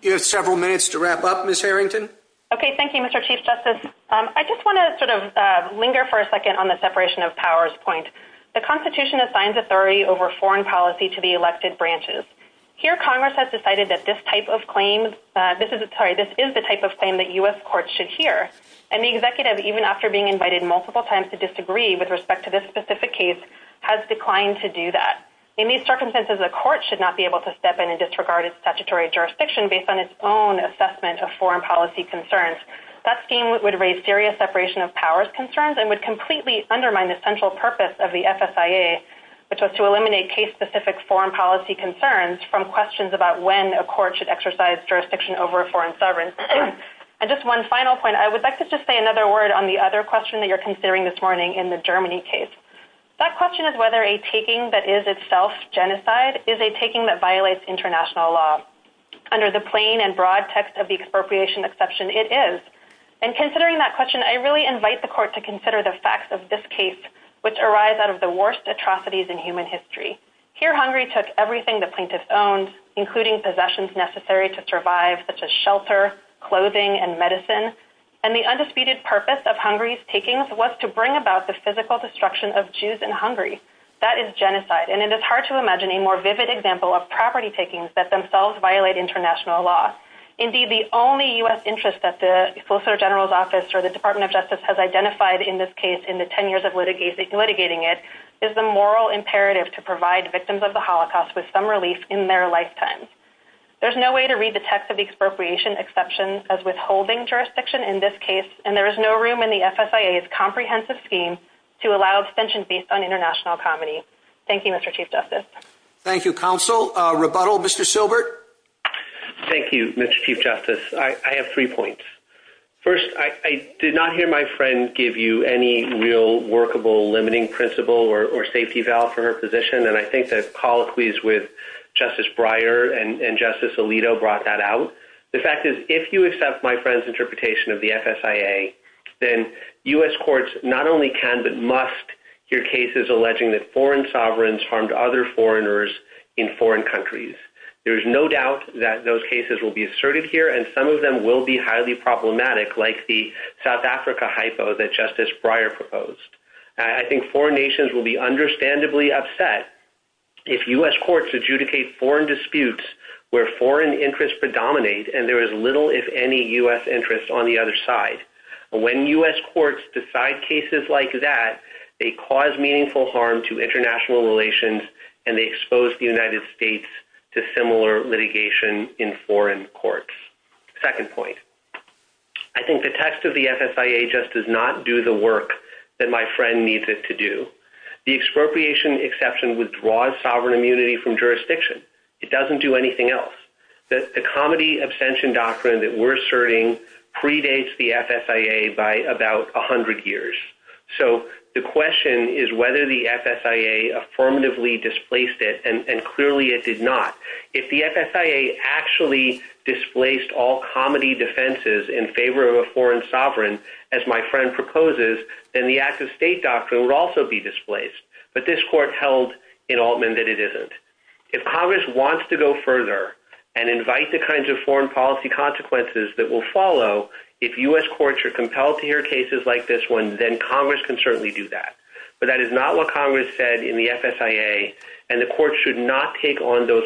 You have several minutes to wrap up Ms. Harrington. Okay, thank you, Mr. Chief Justice. I just wanna sort of linger for a second on the separation of powers point. The constitution assigns authority over foreign policy to the elected branches. Here, Congress has decided that this type of claim, this is the type of claim that US courts should hear. And the executive, even after being invited multiple times to disagree with respect to this specific case, has declined to do that. In these circumstances, the court should not be able to step in and disregard its statutory jurisdiction based on its own assessment of foreign policy concerns. That scheme would raise serious separation of powers concerns and would completely undermine the central purpose of the FSIA, which was to eliminate case specific foreign policy concerns from questions about when a court should exercise jurisdiction over a foreign sovereign. And just one final point, I would like to just say another word on the other question that you're considering this morning in the Germany case. That question is whether a taking that is itself genocide is a taking that violates international law. Under the plain and broad text of the expropriation exception, it is. And considering that question, I really invite the court to consider the facts of this case, which arise out of the worst atrocities in human history. Here, Hungary took everything the plaintiff owned, including possessions necessary to survive, such as shelter, clothing, and medicine. And the undisputed purpose of Hungary's takings was to bring about the physical destruction of Jews in Hungary. That is genocide. And it is hard to imagine a more vivid example of property takings that themselves violate international law. Indeed, the only US interest that the Solicitor General's office or the Department of Justice has identified in this case in the 10 years of litigating it is the moral imperative to provide victims of the Holocaust with some relief in their lifetimes. There's no way to read the text of the expropriation exception as withholding jurisdiction in this case. And there is no room in the FSIA's comprehensive scheme to allow extensions based on international comity. Thank you, Mr. Chief Justice. Thank you, counsel. Rebuttal, Mr. Silbert. Thank you, Mr. Chief Justice. I have three points. First, I did not hear my friend give you any real workable limiting principle or safety valve for her position. And I think that colloquies with Justice Breyer and Justice Alito brought that out. The fact is, if you accept my friend's interpretation of the FSIA, then US courts not only can, but must hear cases alleging that foreign sovereigns harmed other foreigners in foreign countries. There is no doubt that those cases will be asserted here. And some of them will be highly problematic like the South Africa hypo that Justice Breyer proposed. I think foreign nations will be understandably upset if US courts adjudicate foreign disputes where foreign interests predominate and there is little, if any, US interest on the other side. When US courts decide cases like that, they cause meaningful harm to international relations and they expose the United States to similar litigation in foreign courts. Second point, I think the test of the FSIA just does not do the work that my friend needs it to do. The expropriation exception withdraws sovereign immunity from jurisdiction. It doesn't do anything else. The comedy abstention doctrine that we're asserting predates the FSIA by about 100 years. So the question is whether the FSIA affirmatively displaced it, and clearly it did not. If the FSIA actually displaced all comedy defenses in favor of a foreign sovereign, as my friend proposes, then the acts of state doctrine would also be displaced. But this court held in Altman that it isn't. If Congress wants to go further and invite the kinds of foreign policy consequences that will follow, if US courts are compelled to hear cases like this one, then Congress can certainly do that. But that is not what Congress said in the FSIA and the court should not take on those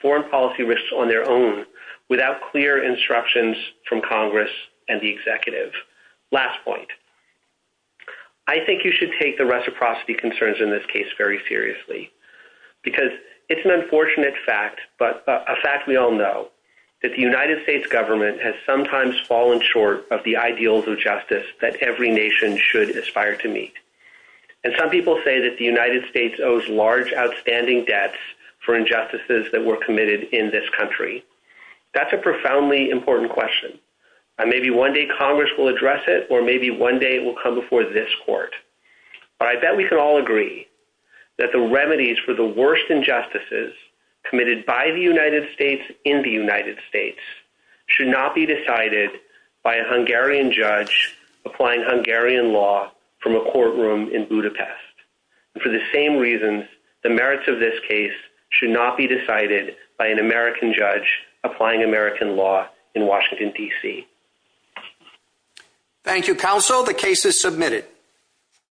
foreign policy risks on their own without clear instructions from Congress and the executive. Last point, I think you should take the reciprocity concerns in this case very seriously because it's an unfortunate fact, but a fact we all know, that the United States government has sometimes fallen short of the ideals of justice that every nation should aspire to meet. And some people say that the United States owes large outstanding debts for injustices that were committed in this country. That's a profoundly important question. And maybe one day Congress will address it, or maybe one day it will come before this court. But I bet we can all agree that the remedies for the worst injustices committed by the United States in the United States should not be decided by a Hungarian judge applying Hungarian law from a courtroom in Budapest. For the same reasons, the merits of this case should not be decided by an American judge applying American law in Washington, DC. Thank you, counsel. The case is submitted.